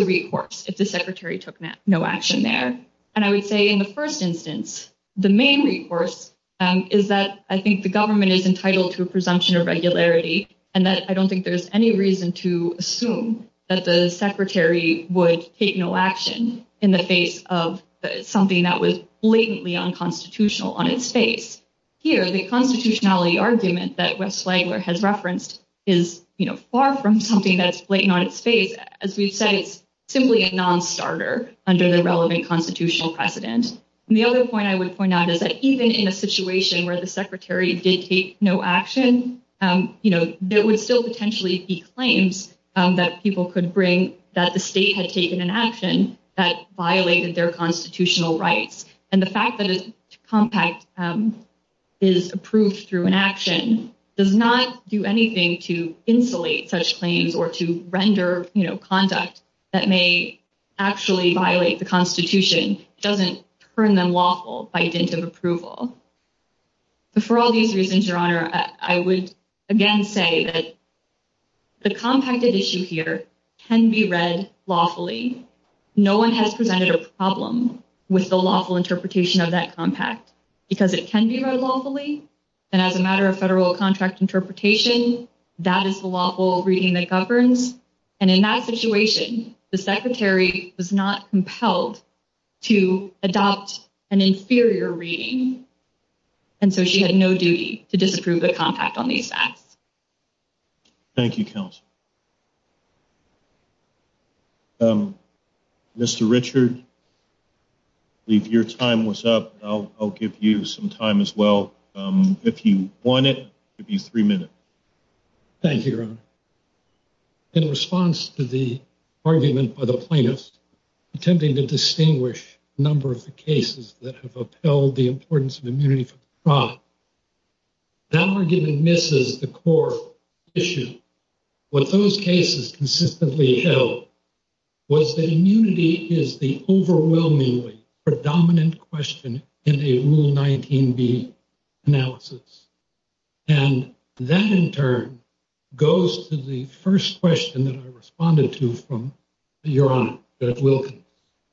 recourse if the Secretary took no action there? And I would say in the first instance, the main recourse is that, I think, the government is entitled to a presumption of regularity and that I don't think there's any reason to assume that the Secretary would take no action in the face of something that was blatantly unconstitutional on its face. Here, the constitutionality argument that Webb Slagler has referenced is far from something that's blatant on its face. As we've said, it's simply a nonstarter under the relevant constitutional precedent. And the other point I would point out is that even in a situation where the Secretary did take no action, there would still potentially be claims that people could bring that the state had taken an action that violated their constitutional rights. And the fact that a compact is approved through an action does not do anything to insulate such claims or to render conduct that may actually violate the constitution. It doesn't turn them lawful by dint of approval. For all these reasons, Your Honor, I would again say that the compacted issue here can be read lawfully. No one has presented a problem with the lawful interpretation of that compact because it can be read lawfully and as a matter of federal contract interpretation, that is the lawful reading that governs. And in that situation, the Secretary was not compelled to adopt an inferior reading. And so she had no duty to disapprove a compact on these facts. Thank you, Counsel. Mr. Richard, if your time was up, I'll give you some time as well. If you want it, I'll give you three minutes. Thank you, Your Honor. In response to the argument by the plaintiffs attempting to distinguish a number of the cases that have upheld the importance of immunity for fraud, that argument misses the core issue. What those cases consistently held was that immunity is the overwhelmingly predominant question in the Rule 19b analysis. And that, in turn, goes to the first question that I responded to from Your Honor, Judge Wilkins,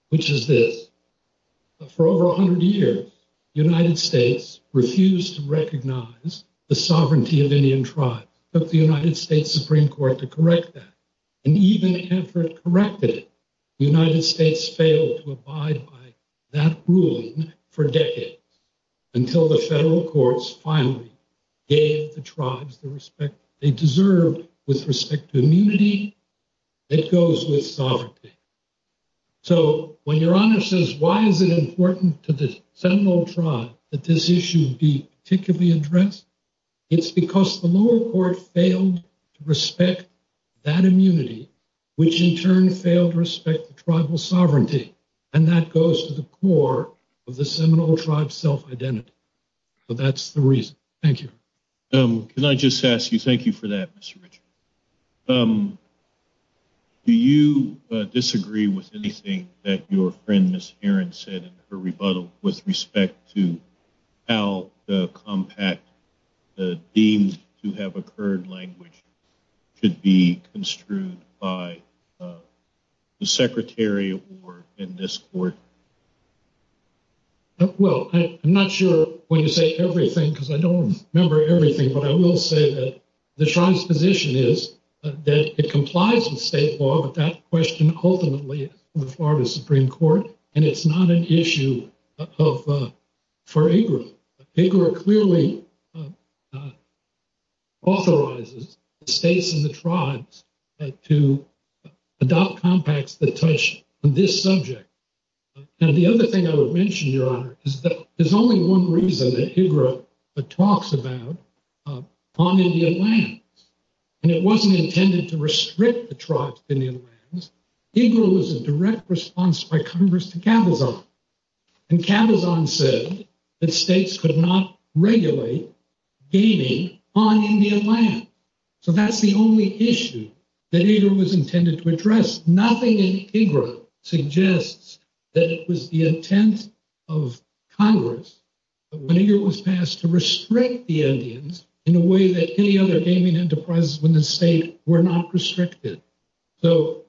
which is this. For over 100 years, the United States refused to recognize the sovereignty of Indian tribes, took the United States Supreme Court to correct that, and even attempted to correct it, the United States failed to abide by that ruling for decades until the federal courts finally gave the tribes the respect they deserved with respect to immunity that goes with sovereignty. So when Your Honor says, why is it important to the Seminole tribe that this issue be particularly addressed, it's because the lower court failed to respect that immunity, which in turn failed to respect the tribal sovereignty, and that goes to the core of the Seminole tribe's self-identity. So that's the reason. Thank you. Can I just ask you, thank you for that, Mr. Richard. Do you disagree with anything that your friend, Ms. Heron, said in her rebuttal with respect to how the compact deemed to have occurred language should be construed by the secretary or in this court? Well, I'm not sure when you say everything because I don't remember everything, but I will say that the tribe's position is that it complies with state law, but that question ultimately is on the part of the Supreme Court, and it's not an issue for IGRA. IGRA clearly authorizes the states and the tribes to adopt compacts that touch this subject. And the other thing I would mention, Your Honor, is that there's only one reason that IGRA talks about on Indian lands, and it wasn't intended to restrict the tribes to Indian lands. IGRA was a direct response by Congress to Cabellon, and Cabellon said that states could not regulate gaming on Indian land. So that's the only issue that IGRA was intended to address. Nothing in IGRA suggests that it was the intent of Congress when IGRA was passed to restrict the Indians in a way that any other gaming enterprise in the state were not restricted. So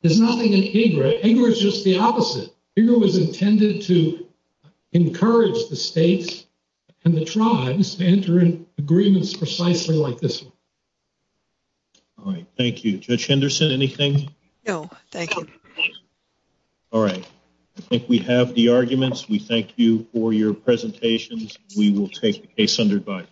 there's nothing in IGRA. IGRA is just the opposite. IGRA was intended to encourage the states and the tribes to enter in agreements precisely like this one. All right, thank you. Judge Henderson, anything? No, thank you. All right, I think we have the arguments. We thank you for your presentations. We will take the case under review.